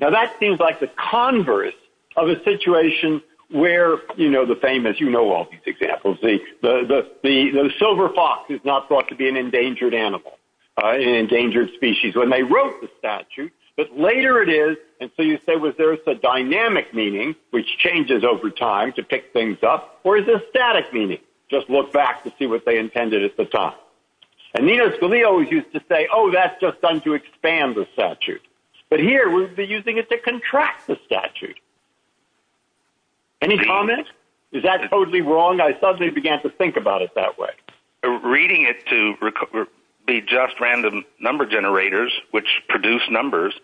Now, that seems like the converse of a situation where, you know, the famous, you know all these examples. The silver fox is not thought to be an endangered animal, an endangered species. When they wrote the statute, but later it is, and so you say, was there a dynamic meaning, which changes over time to pick things up, or is it static meaning? they didn't use the statute, they just looked back to see what they intended at the time. And Nino Scalia used to say, oh, that's just done to expand the statute. But here we're using it to contract the statute. Any comment? Is that totally wrong? I suddenly began to think about it that way. Reading it to be just random number generators, which produce numbers,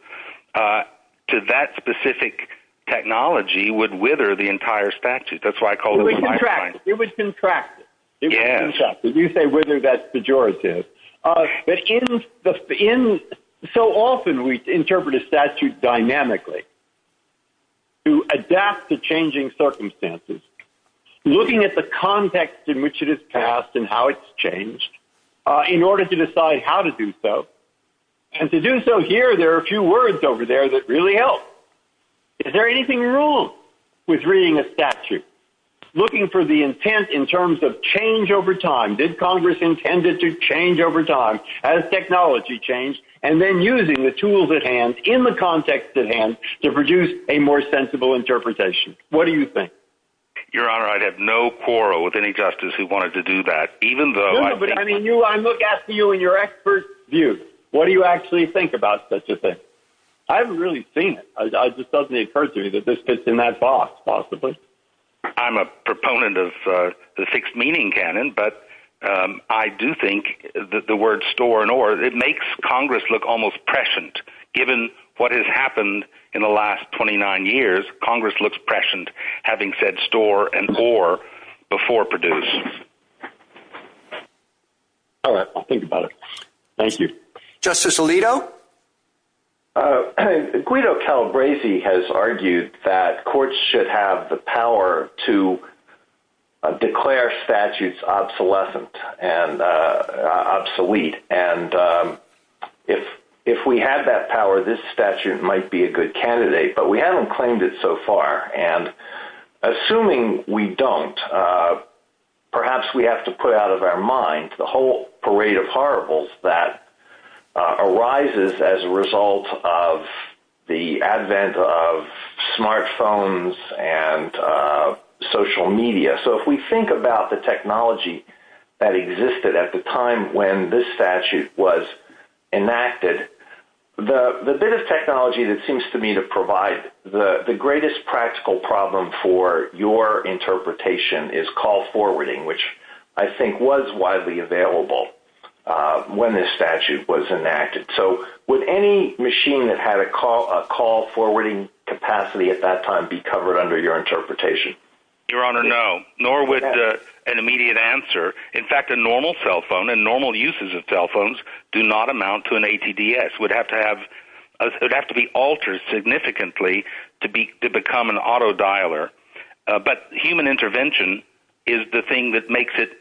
to that specific technology would wither the entire statute. That's why I called it a pipeline. It would contract it. You say wither, that's pejorative. But so often we interpret a statute dynamically to adapt to changing circumstances, looking at the context in which it is passed and how it's changed in order to decide how to do so. And to do so here, there are a few words over there that really help. Is there anything wrong with reading a statute? Looking for the intent in terms of change over time. Did Congress intend it to change over time? Has technology changed? And then using the tools at hand in the context at hand to produce a more sensible interpretation. What do you think? Your Honor, I have no quarrel with any justice who wanted to do that. I look after you in your expert view. What do you actually think about such a thing? I haven't really seen it. I just suddenly occurred to you that this fits in that box possibly. I'm a proponent of the sixth meaning canon, but I do think that the word store and or, it makes Congress look almost prescient. Given what has happened in the last 29 years, Congress looks prescient, having said store and or, before producing. All right. I'll think about it. Thank you. Justice Alito? Guido Calabresi has argued that courts should have the power to declare statutes obsolescent and obsolete. If we have that power, this statute might be a good candidate, but we haven't claimed it so far. Assuming we don't, perhaps we have to put out of our mind the whole parade of horribles that arises as a result of the advent of smartphones and social media. If we think about the technology that existed at the time when this statute was enacted, the bit of technology that seems to me to provide the greatest practical problem for your interpretation is call forwarding, which I think was widely available when this statute was enacted. Would any machine that had a call forwarding capacity at that time be covered under your interpretation? Your Honor, no, nor would an immediate answer. In fact, a normal cell phone and normal uses of cell phones do not amount to an ATDS. It would have to be altered significantly to become an auto dialer, but human intervention is the thing that makes it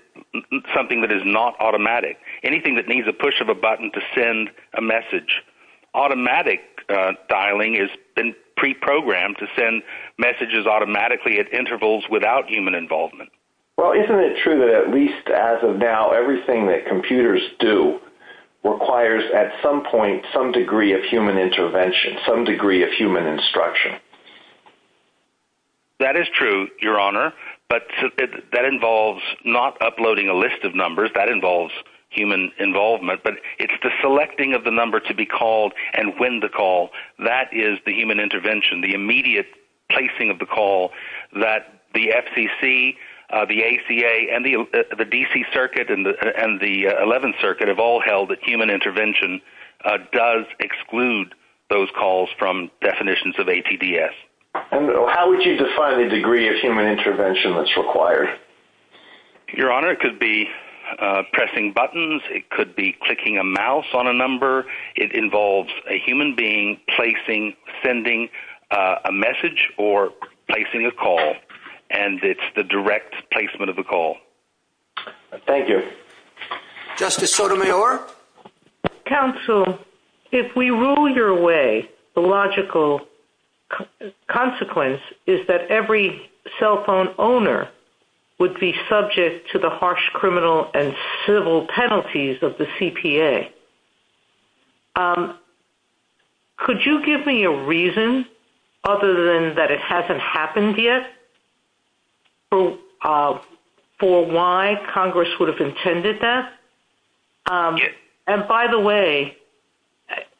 something that is not automatic. Anything that needs a push of a button to send a message, automatic dialing has been pre-programmed to send messages automatically at intervals without human involvement. Well, isn't it true that at least as of now, everything that computers do requires at some point some degree of human intervention, some degree of human instruction? That is true, Your Honor, but that involves not uploading a list of numbers. That involves human involvement, but it's the selecting of the number to be called and when to call. That is the human intervention, the immediate placing of the call that the FCC, the ACA, and the D.C. Circuit and the 11th Circuit have all held that human intervention does exclude those calls from definitions of ATDS. How would you define the degree of human intervention that's required? Your Honor, it could be pressing buttons. It could be clicking a mouse on a number. It involves a human being placing, sending a message, or placing a call, and it's the direct placement of the call. Thank you. Justice Sotomayor? Counsel, if we rule your way, the logical consequence is that every cell phone owner would be subject to the harsh criminal and civil penalties of the CPA. Could you give me a reason other than that it hasn't happened yet for why Congress would have intended that? And by the way,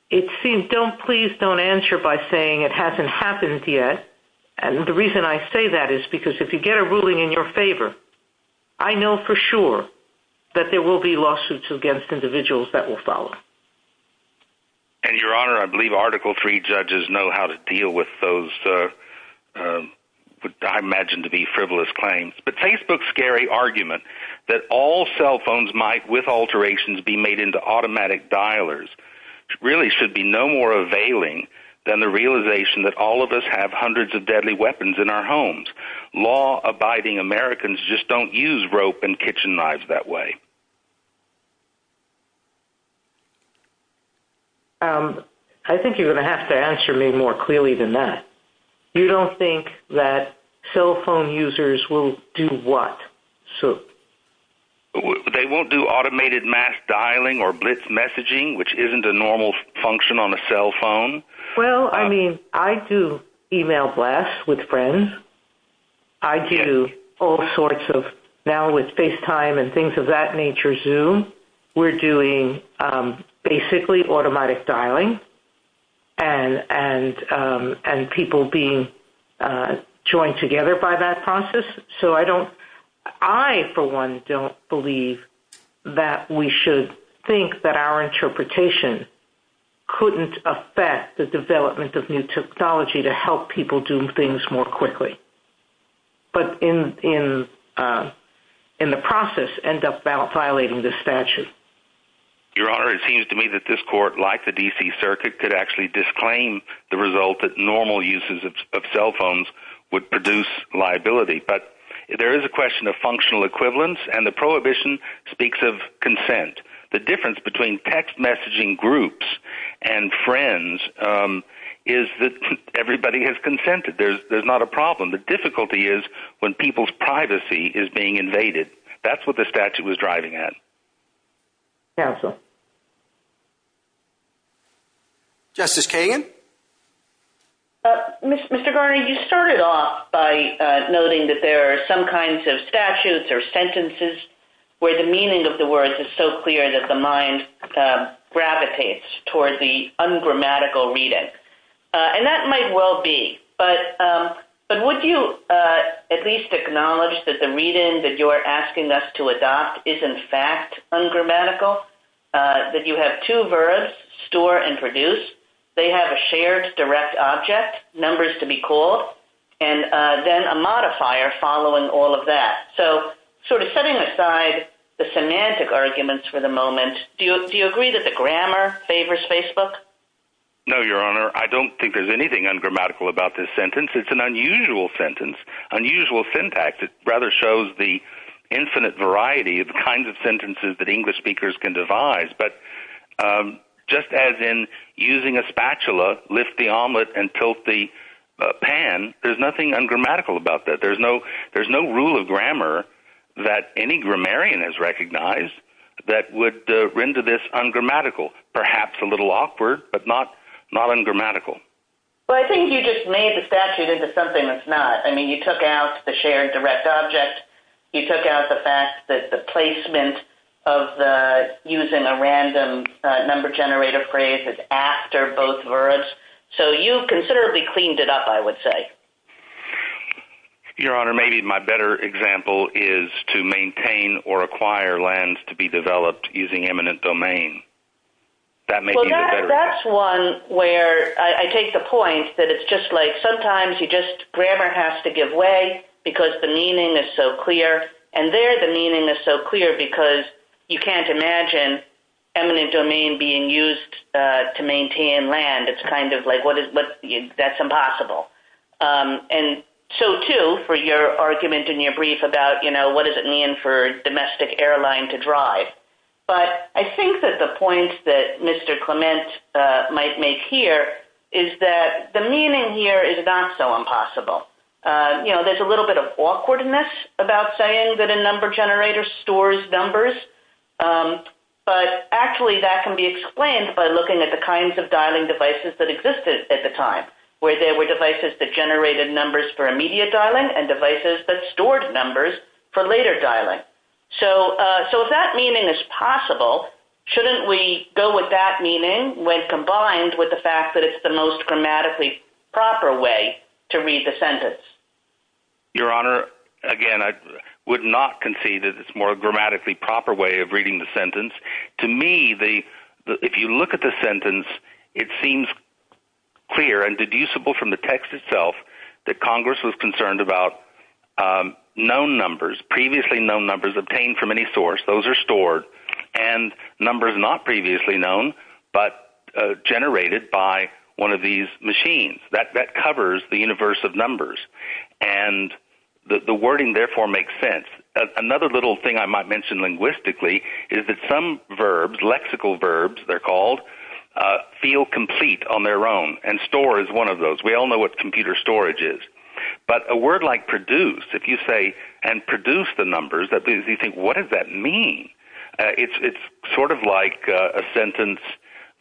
it seems don't please don't answer by saying it hasn't happened yet, and the reason I say that is because if you get a ruling in your favor, I know for sure that there will be lawsuits against individuals that will follow. And, Your Honor, I believe Article III judges know how to deal with those I imagine to be frivolous claims. But Facebook's scary argument that all cell phones might, with alterations, be made into automatic dialers, really should be no more availing than the realization that all of us have hundreds of deadly weapons in our homes. Law-abiding Americans just don't use rope and kitchen knives that way. I think you're going to have to answer me more clearly than that. You don't think that cell phone users will do what? They won't do automated mass dialing or blitz messaging, which isn't a normal function on a cell phone? Well, I mean, I do email blasts with friends. I do all sorts of, now with FaceTime and things of that nature, Zoom, we're doing basically automatic dialing and people being joined together by that process. I, for one, don't believe that we should think that our interpretation couldn't affect the development of new technology to help people do things more quickly, but in the process end up violating the statute. Your Honor, it seems to me that this court, like the D.C. Circuit, could actually disclaim the result that normal uses of cell phones would produce liability. But there is a question of functional equivalence, and the prohibition speaks of consent. The difference between text messaging groups and friends is that everybody has consented. There's not a problem. The difficulty is when people's privacy is being invaded. That's what the statute was driving at. Justice Kagan? Mr. Garner, you started off by noting that there are some kinds of statutes or sentences where the meaning of the words is so clear that the mind gravitates toward the ungrammatical reading, and that might well be, but would you at least acknowledge that the reading that you are asking us to adopt is in fact ungrammatical, that you have two verbs, store and produce? They have a shared direct object, numbers to be called, and then a modifier following all of that. So sort of setting aside the semantic arguments for the moment, do you agree that the grammar favors Facebook? No, Your Honor. I don't think there's anything ungrammatical about this sentence. It's an unusual sentence, unusual syntax. It rather shows the infinite variety of kinds of sentences that English speakers can devise. But just as in using a spatula, lift the omelet and tilt the pan, there's nothing ungrammatical about that. There's no rule of grammar that any grammarian has recognized that would render this ungrammatical. Perhaps a little awkward, but not ungrammatical. Well, I think you just made the statute into something that's not. I mean, you took out the shared direct object. You took out the fact that the placement of using a random number generator phrase is after both verbs. So you considerably cleaned it up, I would say. Your Honor, maybe my better example is to maintain or acquire lands to be developed using eminent domain. Well, that's one where I take the point that it's just like sometimes grammar has to give way because the meaning is so clear, and there the meaning is so clear because you can't imagine eminent domain being used to maintain land. It's kind of like that's impossible. And so, too, for your argument in your brief about, you know, what does it mean for a domestic airline to drive? But I think that the point that Mr. Clement might make here is that the meaning here is not so impossible. You know, there's a little bit of awkwardness about saying that a number generator stores numbers, but actually that can be explained by looking at the kinds of dialing devices that existed at the time, where there were devices that generated numbers for immediate dialing and devices that stored numbers for later dialing. So if that meaning is possible, shouldn't we go with that meaning when combined with the fact that it's the most grammatically proper way to read the sentence? Your Honor, again, I would not concede that it's a more grammatically proper way of reading the sentence. To me, if you look at the sentence, it seems clear and deducible from the text itself that Congress was concerned about known numbers, previously known numbers obtained from any source. Those are stored, and numbers not previously known but generated by one of these machines. That covers the universe of numbers, and the wording therefore makes sense. Another little thing I might mention linguistically is that some verbs, lexical verbs they're called, feel complete on their own, and store is one of those. We all know what computer storage is. But a word like produced, if you say, and produce the numbers, what does that mean? It's sort of like a sentence,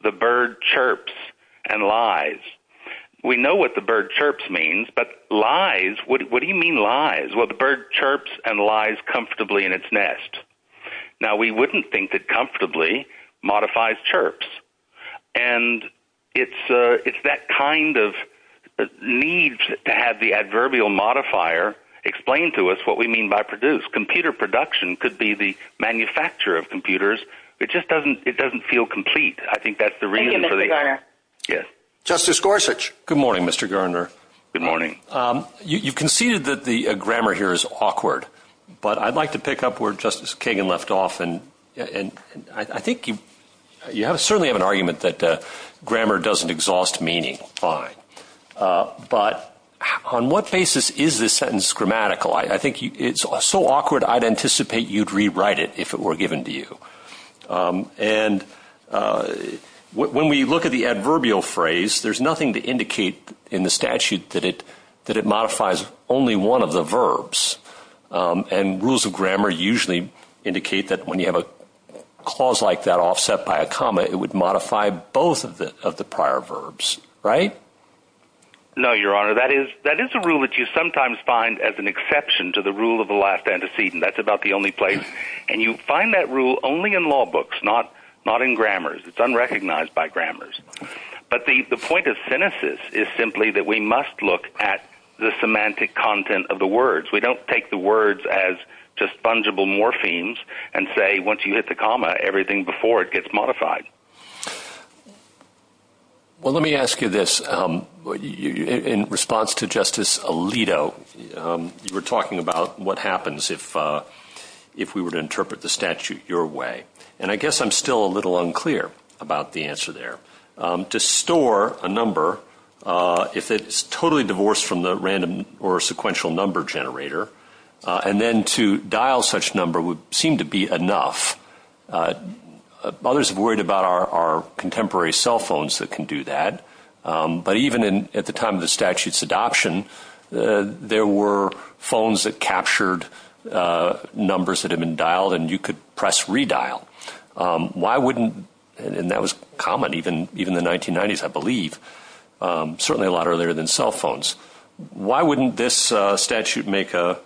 the bird chirps and lies. We know what the bird chirps means, but lies, what do you mean lies? Well, the bird chirps and lies comfortably in its nest. Now, we wouldn't think that comfortably modifies chirps. And it's that kind of need to have the adverbial modifier explain to us what we mean by produce. Computer production could be the manufacture of computers. It just doesn't feel complete. I think that's the reason for the – Thank you, Mr. Garner. Yes. Justice Gorsuch. Good morning, Mr. Garner. Good morning. You conceded that the grammar here is awkward, but I'd like to pick up where Justice Kagan left off. And I think you certainly have an argument that grammar doesn't exhaust meaning. Fine. But on what basis is this sentence grammatical? I think it's so awkward, I'd anticipate you'd rewrite it if it were given to you. And when we look at the adverbial phrase, there's nothing to indicate in the statute that it modifies only one of the verbs. And rules of grammar usually indicate that when you have a clause like that offset by a comma, it would modify both of the prior verbs, right? No, Your Honor. That is a rule that you sometimes find as an exception to the rule of the last antecedent. That's about the only place. And you find that rule only in law books, not in grammars. It's unrecognized by grammars. But the point of cynicism is simply that we must look at the semantic content of the words. We don't take the words as just fungible morphemes and say once you hit the comma, everything before it gets modified. Well, let me ask you this. In response to Justice Alito, you were talking about what happens if we were to interpret the statute your way. And I guess I'm still a little unclear about the answer there. To store a number, if it's totally divorced from the random or sequential number generator, and then to dial such number would seem to be enough. Others have worried about our contemporary cell phones that can do that. But even at the time of the statute's adoption, there were phones that captured numbers that had been dialed and you could press redial. Why wouldn't – and that was common even in the 1990s, I believe, certainly a lot earlier than cell phones. Why wouldn't this statute make a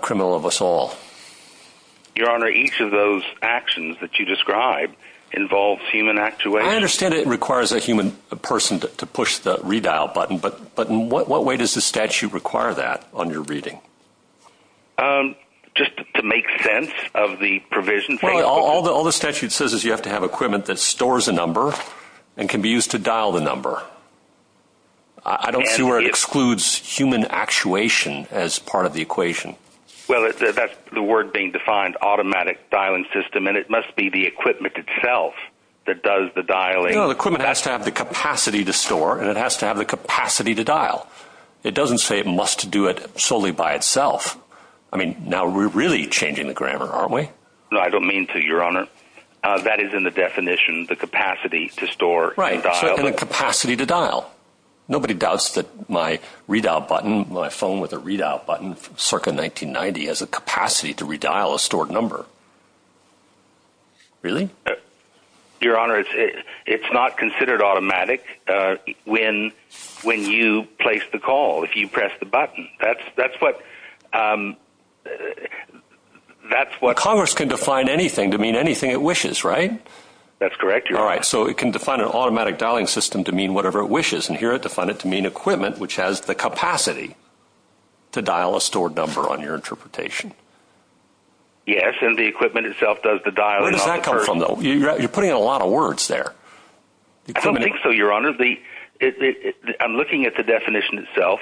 criminal of us all? Your Honor, each of those actions that you describe involves human actuation. I understand it requires a human person to push the redial button, but in what way does the statute require that on your reading? Just to make sense of the provision. Well, all the statute says is you have to have equipment that stores a number and can be used to dial the number. I don't see where it excludes human actuation as part of the equation. Well, that's the word being defined, automatic dialing system, and it must be the equipment itself that does the dialing. No, the equipment has to have the capacity to store and it has to have the capacity to dial. It doesn't say it must do it solely by itself. I mean, now we're really changing the grammar, aren't we? No, I don't mean to, Your Honor. That is in the definition, the capacity to store and dial. Right, and a capacity to dial. Nobody doubts that my redial button, my phone with a redial button circa 1990 has a capacity to redial a stored number. Really? Your Honor, it's not considered automatic when you place the call, if you press the button. Congress can define anything to mean anything it wishes, right? That's correct, Your Honor. All right, so it can define an automatic dialing system to mean whatever it wishes, and here it defined it to mean equipment which has the capacity to dial a stored number on your interpretation. Yes, and the equipment itself does the dialing. Where does that come from, though? You're putting in a lot of words there. I don't think so, Your Honor. I'm looking at the definition itself.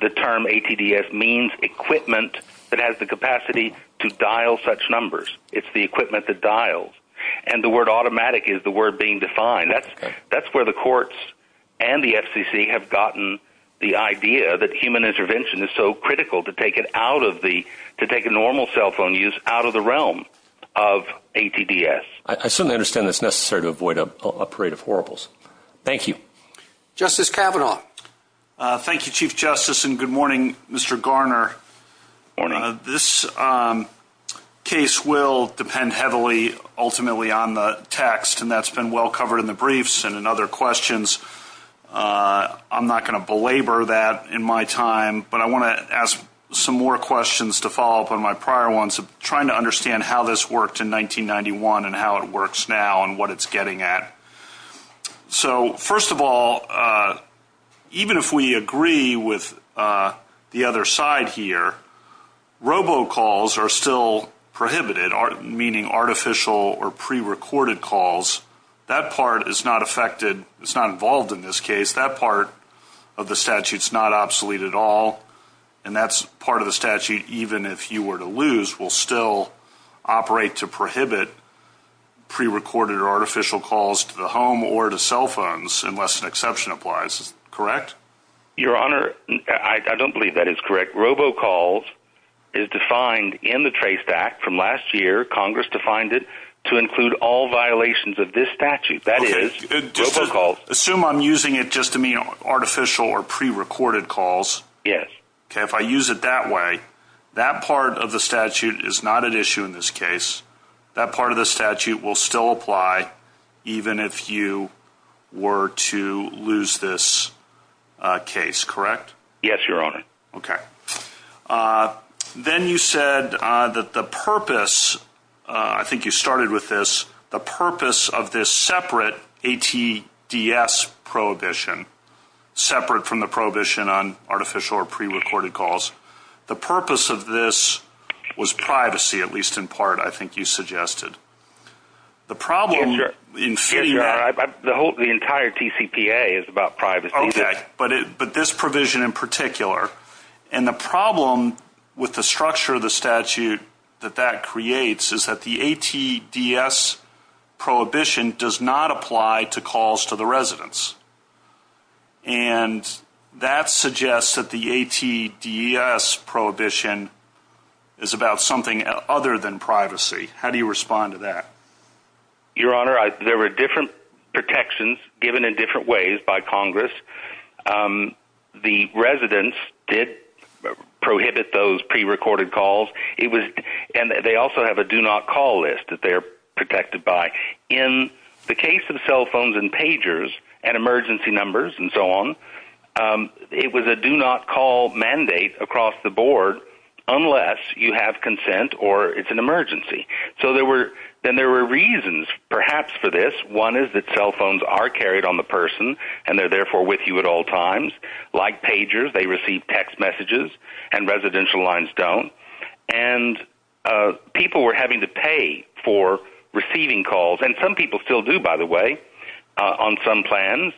The term ATDS means equipment that has the capacity to dial such numbers. It's the equipment that dials, and the word automatic is the word being defined. That's where the courts and the FCC have gotten the idea that human intervention is so critical to take normal cell phone use out of the realm of ATDS. I certainly understand that it's necessary to avoid a parade of horribles. Thank you. Justice Kavanaugh. Thank you, Chief Justice, and good morning, Mr. Garner. Good morning. This case will depend heavily ultimately on the text, and that's been well covered in the briefs and in other questions. I'm not going to belabor that in my time, but I want to ask some more questions to follow up on my prior ones, trying to understand how this worked in 1991 and how it works now and what it's getting at. First of all, even if we agree with the other side here, robocalls are still prohibited, meaning artificial or prerecorded calls. That part is not affected. It's not involved in this case. That part of the statute is not obsolete at all, and that's part of the statute, even if you were to lose, will still operate to prohibit prerecorded or artificial calls to the home or to cell phones, unless an exception applies. Correct? Your Honor, I don't believe that is correct. Robocalls is defined in the TRACE Act from last year. Congress defined it to include all violations of this statute. That is robocalls. Assume I'm using it just to mean artificial or prerecorded calls. Yes. Okay, if I use it that way, that part of the statute is not an issue in this case. That part of the statute will still apply, even if you were to lose this case. Correct? Yes, Your Honor. Okay. Then you said that the purpose, I think you started with this, the purpose of this separate ATDS prohibition, separate from the prohibition on artificial or prerecorded calls. The purpose of this was privacy, at least in part, I think you suggested. The problem in C- Yes, Your Honor. The entire TCPA is about privacy. Okay. But this provision in particular, and the problem with the structure of the statute that that creates is that the ATDS prohibition does not apply to calls to the residents. And that suggests that the ATDS prohibition is about something other than privacy. How do you respond to that? Your Honor, there were different protections given in different ways by Congress. The residents did prohibit those prerecorded calls. And they also have a do-not-call list that they're protected by. In the case of cell phones and pagers and emergency numbers and so on, it was a do-not-call mandate across the board, unless you have consent or it's an emergency. So there were reasons, perhaps, for this. One is that cell phones are carried on the person, and they're therefore with you at all times. Like pagers, they receive text messages, and residential lines don't. And people were having to pay for receiving calls. And some people still do, by the way, on some plans.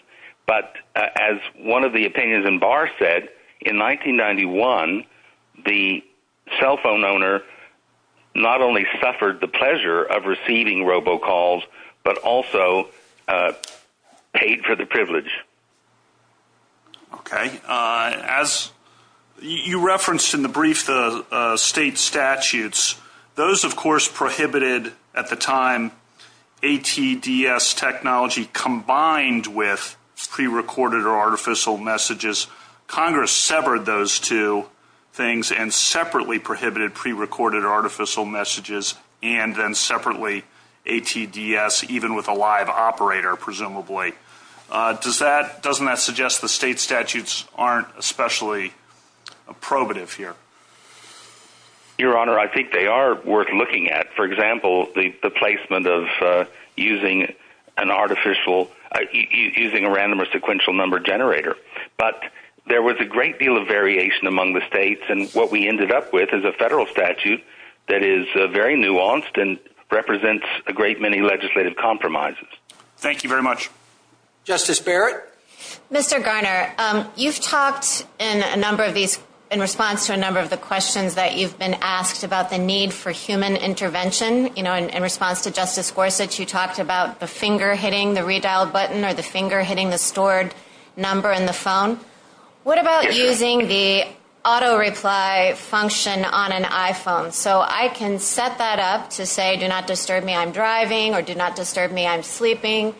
But as one of the opinions in Barr said, in 1991, the cell phone owner not only suffered the pleasure of receiving robo-calls, but also paid for the privilege. Okay. As you referenced in the brief, the state statutes, those, of course, prohibited, at the time, ATDS technology combined with prerecorded or artificial messages. Congress severed those two things and separately prohibited prerecorded or artificial messages and then separately ATDS, even with a live operator, presumably. Doesn't that suggest the state statutes aren't especially probative here? Your Honor, I think they are worth looking at. For example, the placement of using a random or sequential number generator. But there was a great deal of variation among the states, and what we ended up with is a federal statute that is very nuanced and represents a great many legislative compromises. Thank you very much. Justice Barrett? Mr. Garner, you've talked in response to a number of the questions that you've been asked about the need for human intervention. In response to Justice Gorsuch, you talked about the finger hitting the redial button or the finger hitting the stored number in the phone. What about using the auto reply function on an iPhone? So I can set that up to say, do not disturb me, I'm driving, or do not disturb me, I'm sleeping,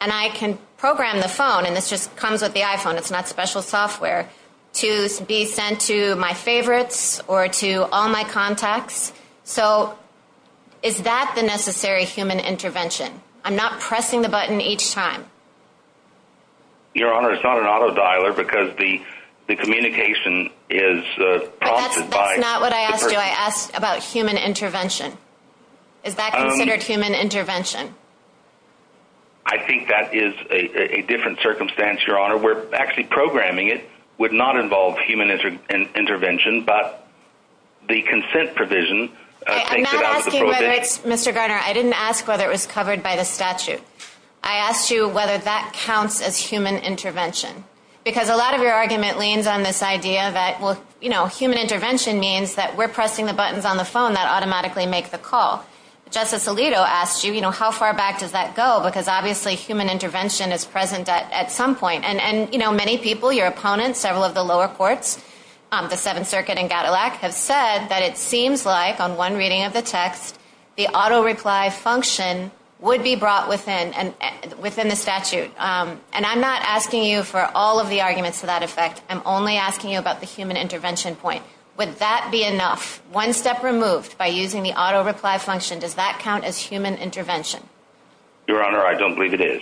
and I can program the phone, and it just comes with the iPhone, it's not special software, to be sent to my favorites or to all my contacts. So is that the necessary human intervention? I'm not pressing the button each time. Your Honor, it's not an auto dialer because the communication is prompted by the person. That's not what I asked you. I asked about human intervention. Is that considered human intervention? I think that is a different circumstance, Your Honor, where actually programming it would not involve human intervention, but the consent provision thinks about the provision. I'm not asking whether, Mr. Garner, I didn't ask whether it was covered by the statute. I asked you whether that counts as human intervention. Because a lot of your argument leans on this idea that, well, you know, human intervention means that we're pressing the buttons on the phone that automatically make the call. Justice Alito asked you, you know, how far back does that go, because obviously human intervention is present at some point. And, you know, many people, your opponents, several of the lower courts, the Seventh Circuit and Cadillac, have said that it seems like, on one reading of the text, the auto reply function would be brought within the statute. And I'm not asking you for all of the arguments to that effect. I'm only asking you about the human intervention point. Would that be enough? One step removed by using the auto reply function, does that count as human intervention? Your Honor, I don't believe it is.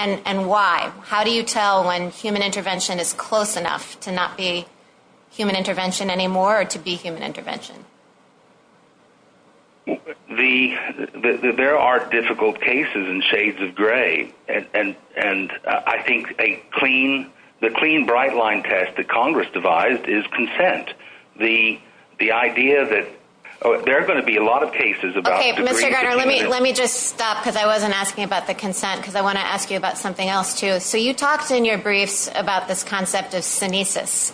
And why? How do you tell when human intervention is close enough to not be human intervention anymore or to be human intervention? There are difficult cases in shades of gray. And I think a clean, the clean bright line test that Congress devised is consent. The idea that there are going to be a lot of cases about the degree to which. Okay, Mr. Gardner, let me just stop, because I wasn't asking about the consent, because I want to ask you about something else too. So you talked in your brief about this concept of senescence.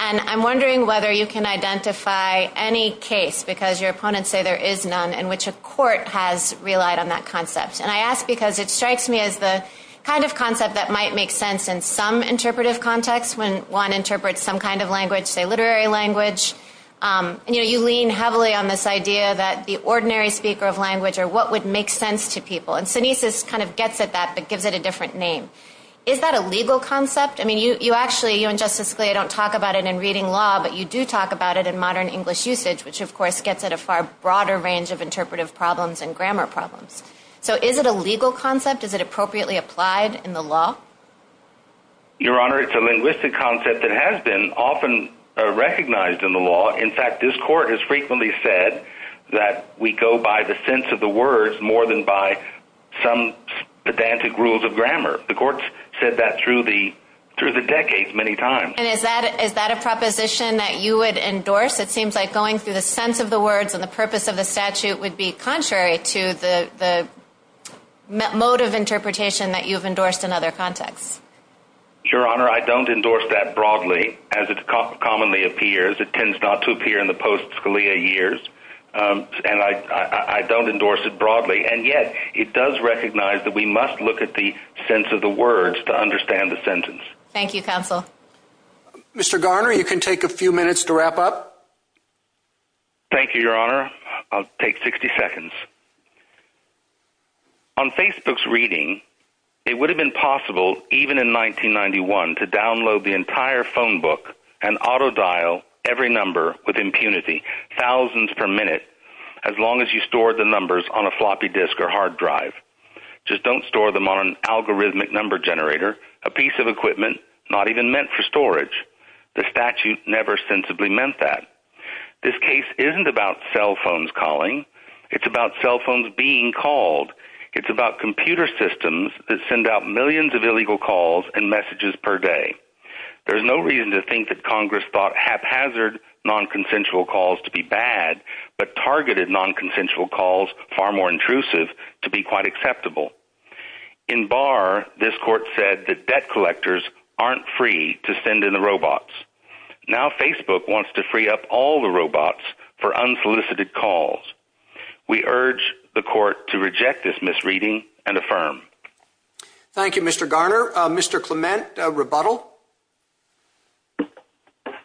And I'm wondering whether you can identify any case, because your opponents say there is none, in which a court has relied on that concept. And I ask because it strikes me as the kind of concept that might make sense in some interpretive context, when one interprets some kind of language, say literary language. You lean heavily on this idea that the ordinary speaker of language or what would make sense to people. And senescence kind of gets at that but gives it a different name. Is that a legal concept? I mean, you actually, you and Justice Scalia don't talk about it in reading law, but you do talk about it in modern English usage, which of course gets at a far broader range of interpretive problems and grammar problems. So is it a legal concept? Is it appropriately applied in the law? Your Honor, it's a linguistic concept that has been often recognized in the law. In fact, this court has frequently said that we go by the sense of the words more than by some pedantic rules of grammar. The courts said that through the decades many times. And is that a proposition that you would endorse? It seems like going through the sense of the words and the purpose of the statute would be contrary to the mode of interpretation that you've endorsed in other contexts. Your Honor, I don't endorse that broadly, as it commonly appears. It tends not to appear in the post-Scalia years. And I don't endorse it broadly. And yet it does recognize that we must look at the sense of the words to understand the sentence. Thank you, counsel. Mr. Garner, you can take a few minutes to wrap up. Thank you, Your Honor. I'll take 60 seconds. On Facebook's reading, it would have been possible, even in 1991, to download the entire phone book and auto-dial every number with impunity, thousands per minute, as long as you stored the numbers on a floppy disk or hard drive. Just don't store them on an algorithmic number generator, a piece of equipment, not even meant for storage. The statute never sensibly meant that. This case isn't about cell phones calling. It's about cell phones being called. It's about computer systems that send out millions of illegal calls and messages per day. There's no reason to think that Congress thought haphazard non-consensual calls to be bad, but targeted non-consensual calls, far more intrusive, to be quite acceptable. In Barr, this court said that debt collectors aren't free to send in the robots. Now Facebook wants to free up all the robots for unsolicited calls. We urge the court to reject this misreading and affirm. Thank you, Mr. Garner. Mr. Clement, rebuttal.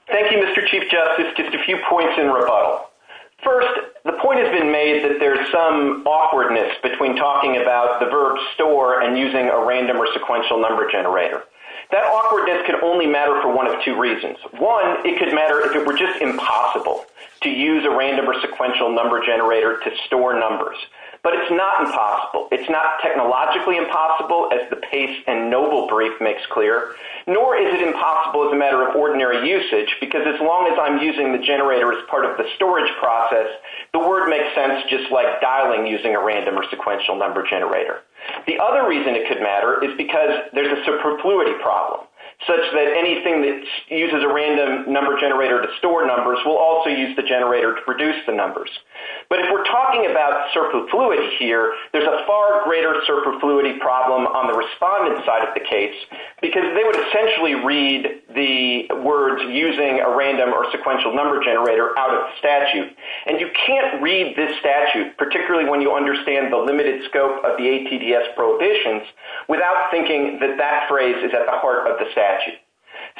Thank you, Mr. Chief Justice. Just a few points in rebuttal. First, the point has been made that there's some awkwardness between talking about the verb store and using a random or sequential number generator. That awkwardness can only matter for one of two reasons. One, it could matter if it were just impossible to use a random or sequential number generator to store numbers. But it's not impossible. It's not technologically impossible, as the Pace and Noble brief makes clear, nor is it impossible as a matter of ordinary usage, because as long as I'm using the generator as part of the storage process, the word makes sense just like dialing using a random or sequential number generator. The other reason it could matter is because there's a superfluity problem, such that anything that uses a random number generator to store numbers will also use the generator to produce the numbers. But if we're talking about superfluity here, there's a far greater superfluity problem on the respondent side of the case, because they would essentially read the words using a random or sequential number generator out of statute. And you can't read this statute, particularly when you understand the limited scope of the ATDS prohibitions, without thinking that that phrase is a part of the statute.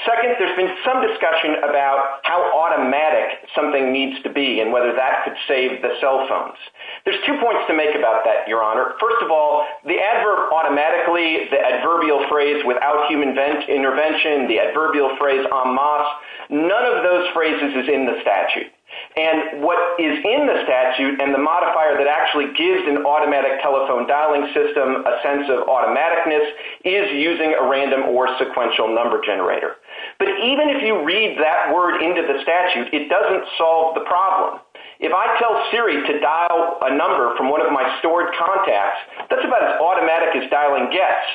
Second, there's been some discussion about how automatic something needs to be and whether that could save the cell phones. There's two points to make about that, Your Honor. First of all, the adverb automatically, the adverbial phrase without human intervention, the adverbial phrase en masse, none of those phrases is in the statute. And what is in the statute and the modifier that actually gives an automatic telephone dialing system a sense of automaticness is using a random or sequential number generator. But even if you read that word into the statute, it doesn't solve the problem. If I tell Siri to dial a number from one of my stored contacts, that's about as automatic as dialing gets.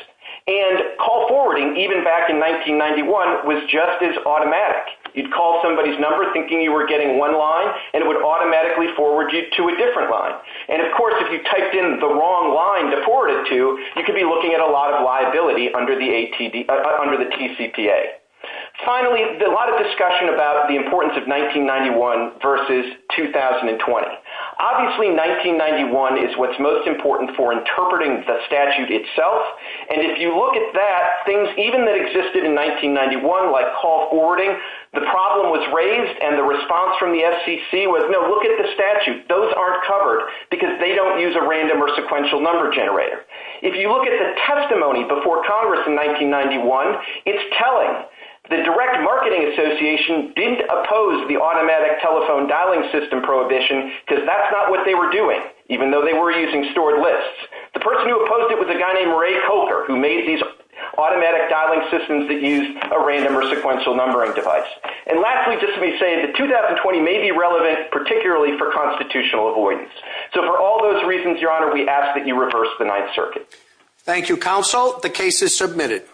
And call forwarding, even back in 1991, was just as automatic. You'd call somebody's number thinking you were getting one line, and it would automatically forward you to a different line. And of course, if you typed in the wrong line to forward it to, you could be looking at a lot of liability under the TCPA. Finally, a lot of discussion about the importance of 1991 versus 2020. Obviously, 1991 is what's most important for interpreting the statute itself. And if you look at that, things even that existed in 1991, like call forwarding, the problem was raised, and the response from the SEC was, no, look at the statute. Those aren't covered because they don't use a random or sequential number generator. If you look at the testimony before Congress in 1991, it's telling. The Direct Marketing Association didn't oppose the automatic telephone dialing system prohibition because that's not what they were doing, even though they were using stored lists. The person who opposed it was a guy named Ray Coulter, who made these automatic dialing systems that used a random or sequential numbering device. And lastly, just to be safe, the 2020 may be relevant, particularly for constitutional avoidance. So for all those reasons, Your Honor, we ask that you reverse the Ninth Circuit. Thank you, Counsel. The case is submitted.